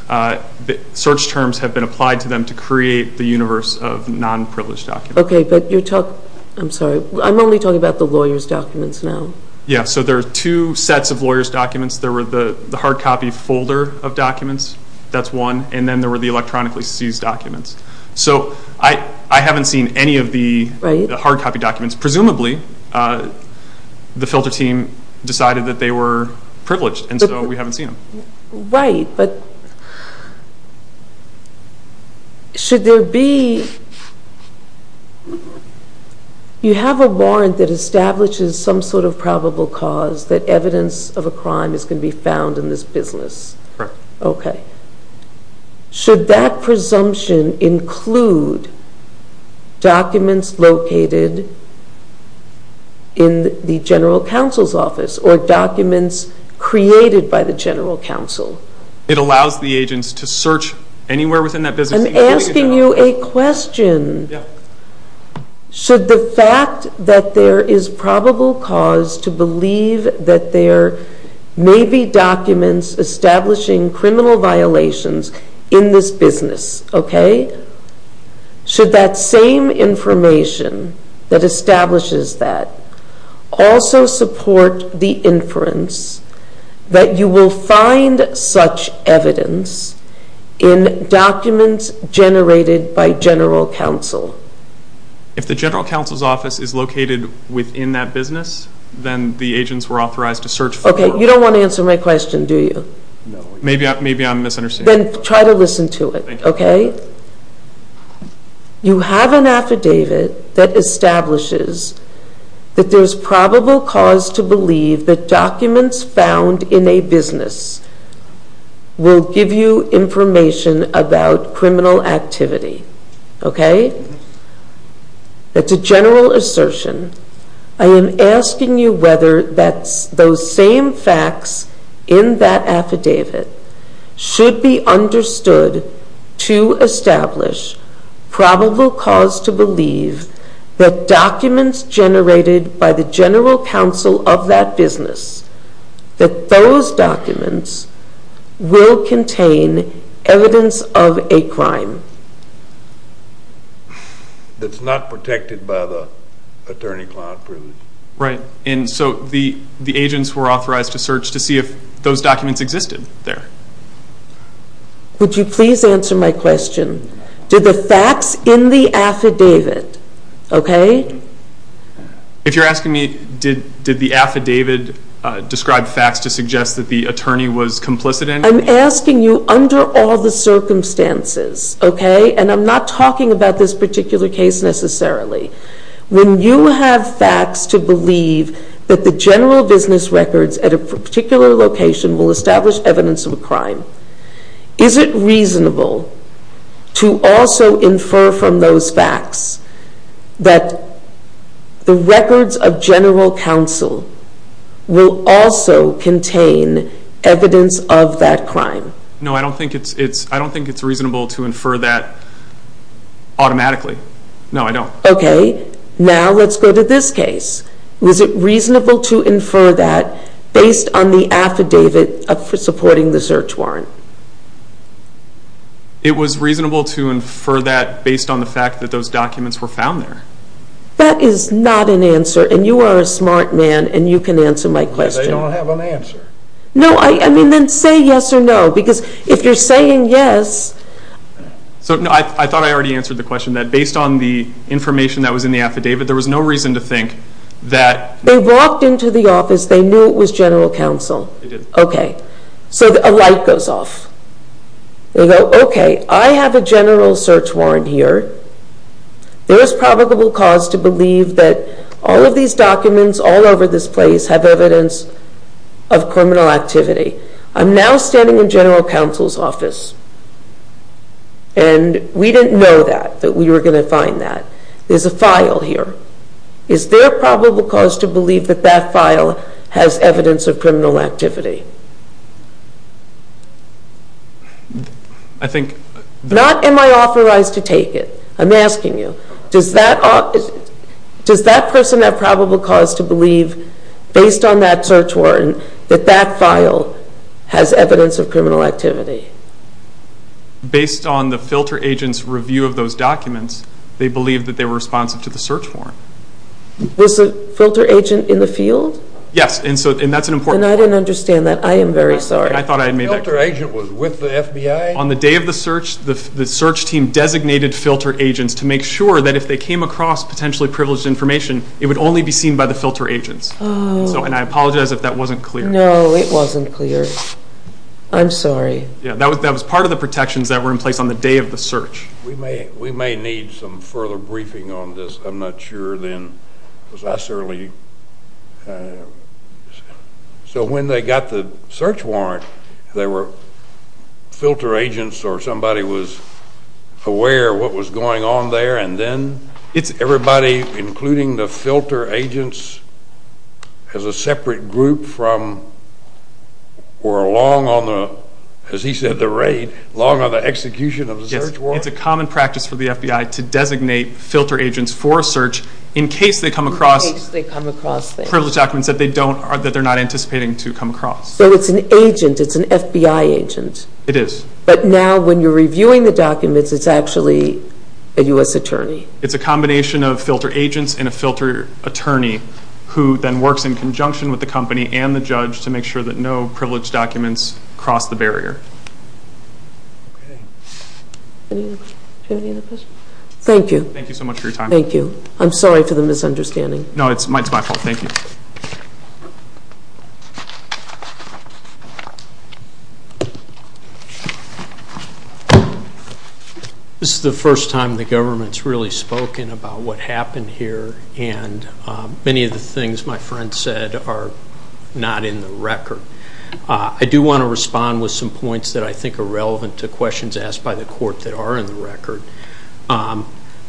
search terms have been applied to them to create the universe of non-privileged documents. Okay, but you're talking – I'm sorry, I'm only talking about the lawyer's documents now. Yeah, so there are two sets of lawyer's documents. There were the hard copy folder of documents, that's one, and then there were the electronically seized documents. So I haven't seen any of the hard copy documents. Presumably, the filter team decided that they were privileged, and so we haven't seen them. Right, but should there be – you have a warrant that establishes some sort of probable cause that evidence of a crime is going to be found in this business. Correct. Okay. Should that presumption include documents located in the general counsel's office or documents created by the general counsel? It allows the agents to search anywhere within that business. I'm asking you a question. Yeah. Should the fact that there is probable cause to believe that there may be documents establishing criminal violations in this business, okay, should that same information that establishes that also support the inference that you will find such evidence in documents generated by general counsel? If the general counsel's office is located within that business, Okay, you don't want to answer my question, do you? Maybe I'm misunderstanding. Then try to listen to it, okay? You have an affidavit that establishes that there's probable cause to believe that documents found in a business will give you information about criminal activity, okay? That's a general assertion. I am asking you whether those same facts in that affidavit should be understood to establish probable cause to believe that documents generated by the general counsel of that business, that those documents will contain evidence of a crime. That's not protected by the attorney-client privilege. Right. And so the agents were authorized to search to see if those documents existed there. Would you please answer my question? Did the facts in the affidavit, okay? If you're asking me did the affidavit describe facts to suggest that the attorney was complicit in it? I'm asking you under all the circumstances, okay? And I'm not talking about this particular case necessarily. When you have facts to believe that the general business records at a particular location will establish evidence of a crime, is it reasonable to also infer from those facts that the records of general counsel will also contain evidence of that crime? No, I don't think it's reasonable to infer that automatically. No, I don't. Okay. Now let's go to this case. Was it reasonable to infer that based on the affidavit supporting the search warrant? It was reasonable to infer that based on the fact that those documents were found there. That is not an answer, and you are a smart man and you can answer my question. Because I don't have an answer. No, I mean then say yes or no, because if you're saying yes. So I thought I already answered the question that based on the information that was in the affidavit, there was no reason to think that. They walked into the office, they knew it was general counsel. They did. Okay. So a light goes off. They go, okay, I have a general search warrant here. There is probable cause to believe that all of these documents all over this place have evidence of criminal activity. I'm now standing in general counsel's office. And we didn't know that, that we were going to find that. There's a file here. Is there probable cause to believe that that file has evidence of criminal activity? I think. Not am I authorized to take it. I'm asking you, does that person have probable cause to believe based on that search warrant that that file has evidence of criminal activity? Based on the filter agent's review of those documents, they believe that they were responsive to the search warrant. Was the filter agent in the field? Yes, and that's an important point. And I didn't understand that. I am very sorry. I thought I had made that clear. The filter agent was with the FBI? On the day of the search, the search team designated filter agents to make sure that if they came across potentially privileged information, it would only be seen by the filter agents. And I apologize if that wasn't clear. No, it wasn't clear. I'm sorry. That was part of the protections that were in place on the day of the search. We may need some further briefing on this. I'm not sure then, because that's early. So when they got the search warrant, they were filter agents or somebody was aware of what was going on there, and then everybody, including the filter agents, as a separate group from or along on the, as he said, the raid, along on the execution of the search warrant? Yes, it's a common practice for the FBI to designate filter agents for a search in case they come across privileged documents that they're not anticipating to come across. So it's an agent, it's an FBI agent? It is. But now when you're reviewing the documents, it's actually a U.S. attorney? It's a combination of filter agents and a filter attorney who then works in conjunction with the company and the judge to make sure that no privileged documents cross the barrier. Okay. Do you have any other questions? Thank you. Thank you so much for your time. Thank you. I'm sorry for the misunderstanding. No, it's my fault. Thank you. This is the first time the government's really spoken about what happened here, and many of the things my friend said are not in the record. I do want to respond with some points that I think are relevant to questions asked by the court that are in the record.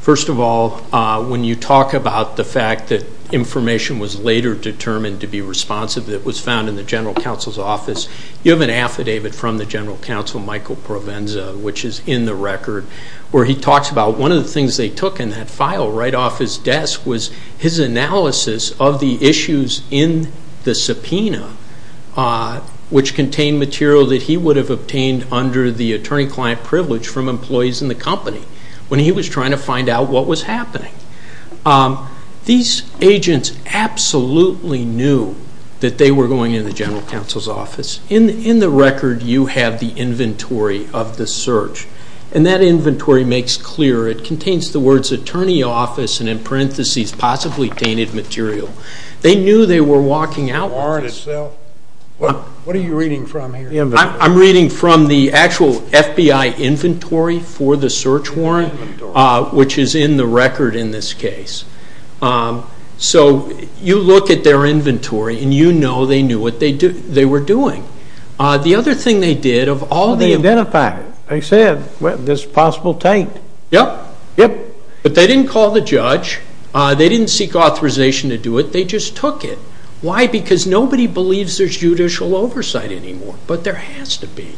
First of all, when you talk about the fact that information was later determined to be responsive that was found in the general counsel's office, you have an affidavit from the general counsel, Michael Provenza, which is in the record where he talks about one of the things they took in that file right off his desk was his analysis of the issues in the subpoena which contained material that he would have obtained under the attorney-client privilege from employees in the company when he was trying to find out what was happening. These agents absolutely knew that they were going in the general counsel's office. In the record, you have the inventory of the search, and that inventory makes clear. It contains the words attorney office and in parentheses possibly tainted material. They knew they were walking out with this. The warrant itself? What are you reading from here? I'm reading from the actual FBI inventory for the search warrant, which is in the record in this case. So you look at their inventory, and you know they knew what they were doing. The other thing they did of all the- They identified it. They said there's possible taint. Yep. Yep. But they didn't call the judge. They didn't seek authorization to do it. They just took it. Why? Because nobody believes there's judicial oversight anymore, but there has to be.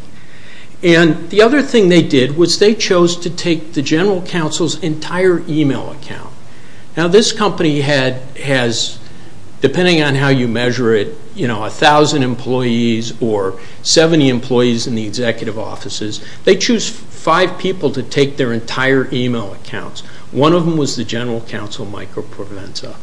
The other thing they did was they chose to take the general counsel's entire e-mail account. Now this company has, depending on how you measure it, 1,000 employees or 70 employees in the executive offices. They choose five people to take their entire e-mail accounts. One of them was the general counsel, Michael Provenza.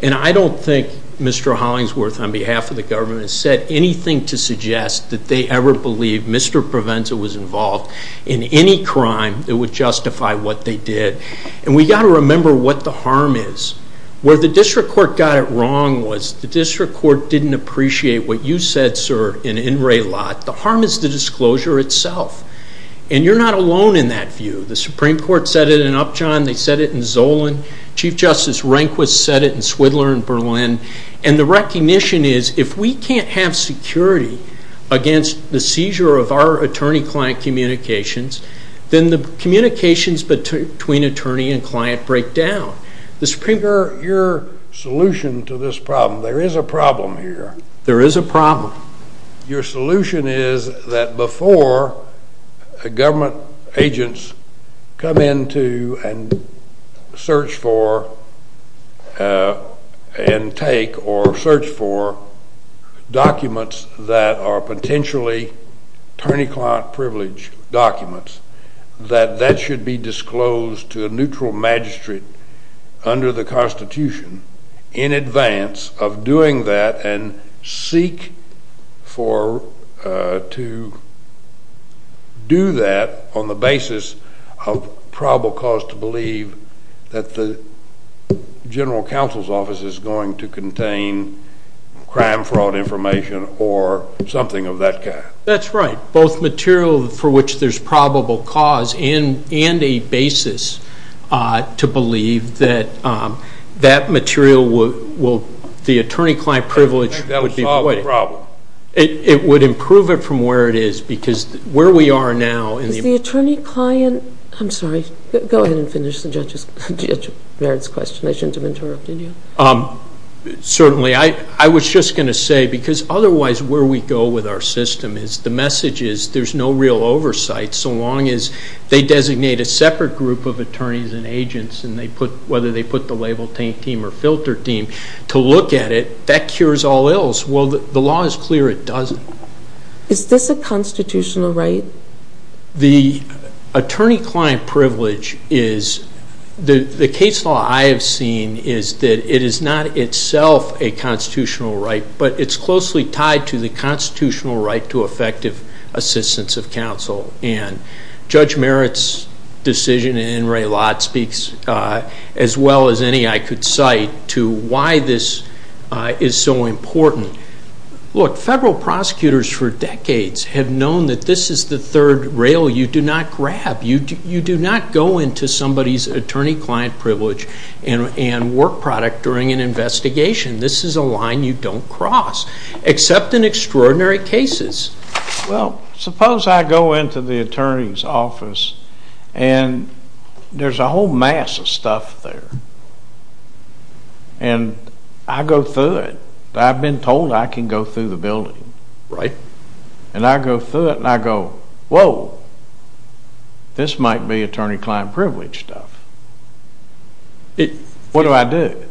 And I don't think Mr. Hollingsworth, on behalf of the government, has said anything to suggest that they ever believed Mr. Provenza was involved in any crime that would justify what they did. And we've got to remember what the harm is. Where the district court got it wrong was the district court didn't appreciate what you said, sir, in In Relat. The harm is the disclosure itself. And you're not alone in that view. They said it in Zolan. Chief Justice Rehnquist said it in Swidler and Berlin. And the recognition is if we can't have security against the seizure of our attorney-client communications, then the communications between attorney and client break down. Mr. Premier, your solution to this problem, there is a problem here. There is a problem. Your solution is that before government agents come into and search for and take or search for documents that are potentially attorney-client privilege documents, that that should be disclosed to a neutral magistrate under the Constitution in advance of doing that and seek to do that on the basis of probable cause to believe that the general counsel's office is going to contain crime fraud information or something of that kind. That's right. Both material for which there's probable cause and a basis to believe that that material will, the attorney-client privilege would be. That would solve the problem. It would improve it from where it is because where we are now. Is the attorney-client, I'm sorry, go ahead and finish the judge's question. I shouldn't have interrupted you. Certainly. I was just going to say because otherwise where we go with our system is the message is there's no real oversight so long as they designate a separate group of attorneys and agents and whether they put the label team or filter team to look at it, that cures all ills. Well, the law is clear it doesn't. Is this a constitutional right? The attorney-client privilege is, the case law I have seen is that it is not itself a constitutional right but it's closely tied to the constitutional right to effective assistance of counsel. Judge Merritt's decision and Ray Lott speaks as well as any I could cite to why this is so important. Look, federal prosecutors for decades have known that this is the third rail you do not grab. You do not go into somebody's attorney-client privilege and work product during an investigation. This is a line you don't cross except in extraordinary cases. Well, suppose I go into the attorney's office and there's a whole mass of stuff there and I go through it. I've been told I can go through the building. Right. And I go through it and I go, whoa, this might be attorney-client privilege stuff. What do I do?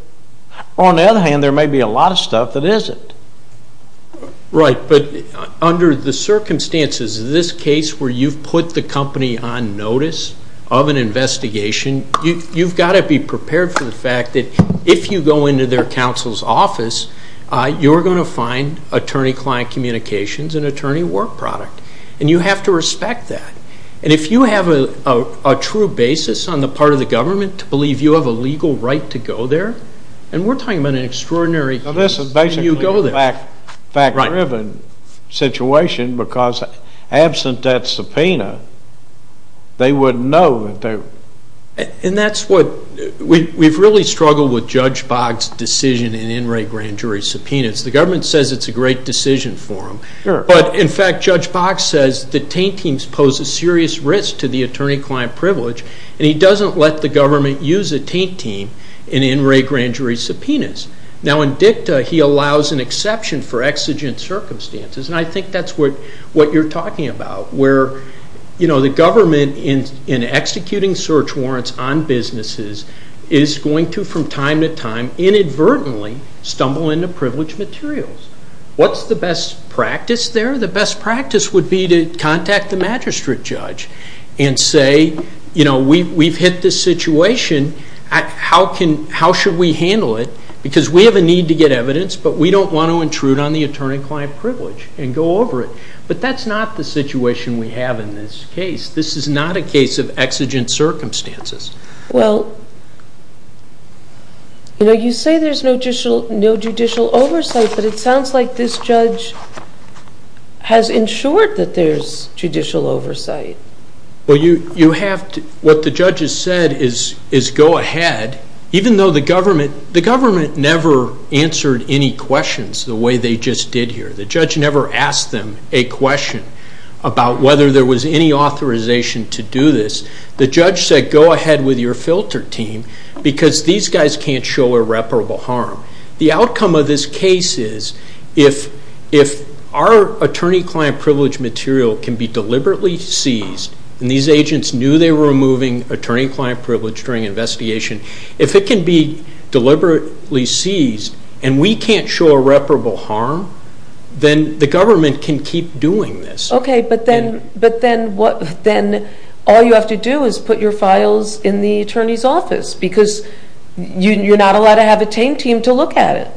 On the other hand, there may be a lot of stuff that isn't. Right, but under the circumstances of this case where you've put the company on notice of an investigation, you've got to be prepared for the fact that if you go into their counsel's office, you're going to find attorney-client communications and attorney work product, and you have to respect that. And if you have a true basis on the part of the government to believe you have a legal right to go there, and we're talking about an extraordinary case. Now, this is basically a fact-driven situation because absent that subpoena, they wouldn't know. And that's what we've really struggled with Judge Boggs' decision in in-rate grand jury subpoenas. The government says it's a great decision for him. Sure. But, in fact, Judge Boggs says that taint teams pose a serious risk to the attorney-client privilege, and he doesn't let the government use a taint team in in-rate grand jury subpoenas. Now, in dicta, he allows an exception for exigent circumstances, and I think that's what you're talking about, where the government, in executing search warrants on businesses, is going to, from time to time, inadvertently stumble into privileged materials. What's the best practice there? The best practice would be to contact the magistrate judge and say, we've hit this situation, how should we handle it? Because we have a need to get evidence, but we don't want to intrude on the attorney-client privilege and go over it. But that's not the situation we have in this case. This is not a case of exigent circumstances. Well, you say there's no judicial oversight, but it sounds like this judge has ensured that there's judicial oversight. Well, what the judge has said is go ahead, even though the government never answered any questions the way they just did here. The judge never asked them a question about whether there was any authorization to do this. The judge said, go ahead with your filter team, because these guys can't show irreparable harm. The outcome of this case is, if our attorney-client privilege material can be deliberately seized, and these agents knew they were removing attorney-client privilege during investigation, if it can be deliberately seized and we can't show irreparable harm, then the government can keep doing this. Okay, but then all you have to do is put your files in the attorney's office, because you're not allowed to have a TAME team to look at it.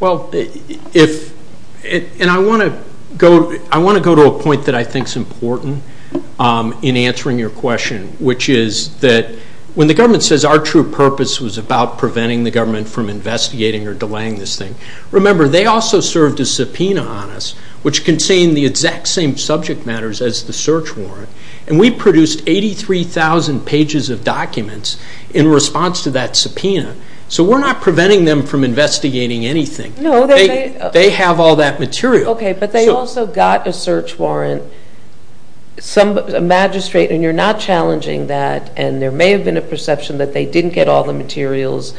Well, and I want to go to a point that I think is important in answering your question, which is that when the government says our true purpose was about preventing the government from investigating or delaying this thing, remember, they also served a subpoena on us, which contained the exact same subject matters as the search warrant, and we produced 83,000 pages of documents in response to that subpoena. So we're not preventing them from investigating anything. They have all that material. Okay, but they also got a search warrant. A magistrate, and you're not challenging that, and there may have been a perception that they didn't get all the materials.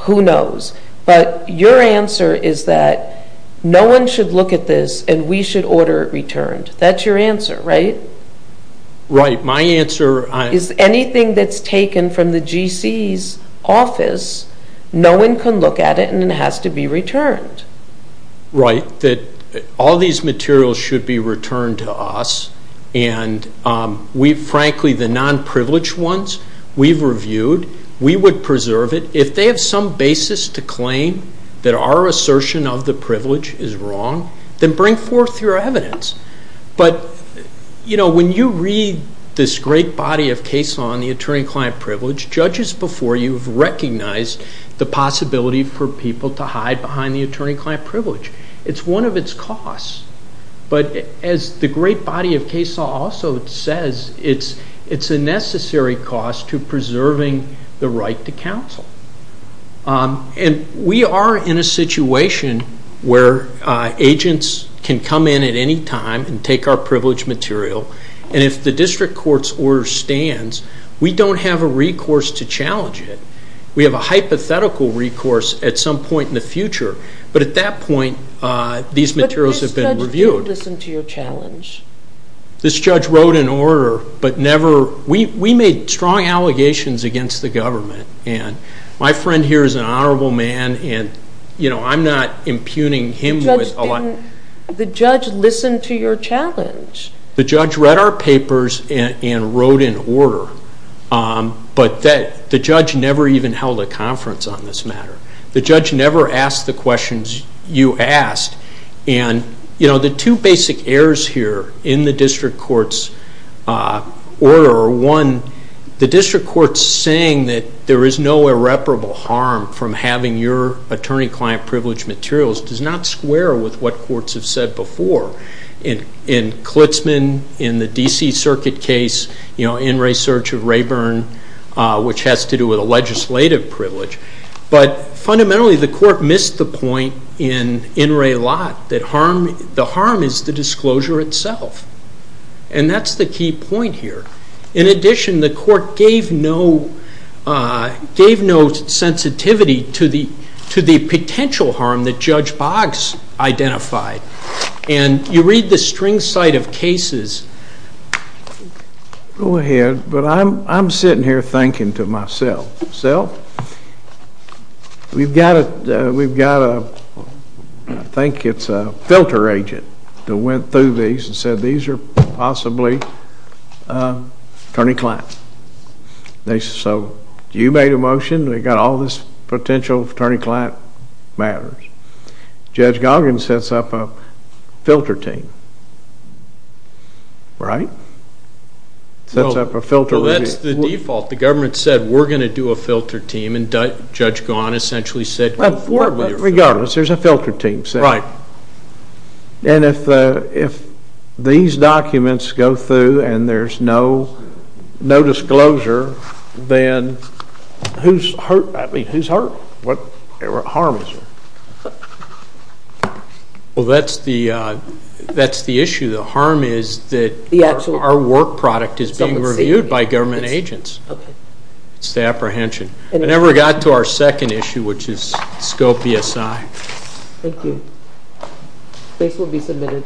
Who knows? But your answer is that no one should look at this, and we should order it returned. That's your answer, right? Right. Anything that's taken from the GC's office, no one can look at it, and it has to be returned. Right, that all these materials should be returned to us, and we frankly, the non-privileged ones, we've reviewed. We would preserve it. If they have some basis to claim that our assertion of the privilege is wrong, then bring forth your evidence. But, you know, when you read this great body of case law on the attorney-client privilege, judges before you have recognized the possibility for people to hide behind the attorney-client privilege. It's one of its costs, but as the great body of case law also says, it's a necessary cost to preserving the right to counsel. And we are in a situation where agents can come in at any time and take our privileged material, and if the district court's order stands, we don't have a recourse to challenge it. We have a hypothetical recourse at some point in the future, but at that point these materials have been reviewed. But this judge did listen to your challenge. This judge wrote an order, but never, we made strong allegations against the government, and my friend here is an honorable man, and, you know, I'm not impugning him with a lot. The judge listened to your challenge. The judge read our papers and wrote an order, but the judge never even held a conference on this matter. The judge never asked the questions you asked. And, you know, the two basic errors here in the district court's order are, one, the district court's saying that there is no irreparable harm from having your attorney-client privileged materials does not square with what courts have said before. In Klitzman, in the D.C. Circuit case, you know, in research of Rayburn, which has to do with a legislative privilege. But fundamentally the court missed the point in In Re Lot that the harm is the disclosure itself, and that's the key point here. In addition, the court gave no sensitivity to the potential harm that Judge Boggs identified. And you read the string site of cases. Go ahead, but I'm sitting here thinking to myself, we've got a, I think it's a filter agent that went through these and said these are possibly attorney-client. So you made a motion. We've got all this potential attorney-client matters. Judge Goggins sets up a filter team, right? Sets up a filter. Well, that's the default. The government said we're going to do a filter team, and Judge Goggins essentially said. Regardless, there's a filter team. Right. And if these documents go through and there's no disclosure, then who's hurt? I mean, who's hurt? What harm is there? Well, that's the issue. The harm is that our work product is being reviewed by government agents. It's the apprehension. I never got to our second issue, which is scope BSI. Thank you. This will be submitted.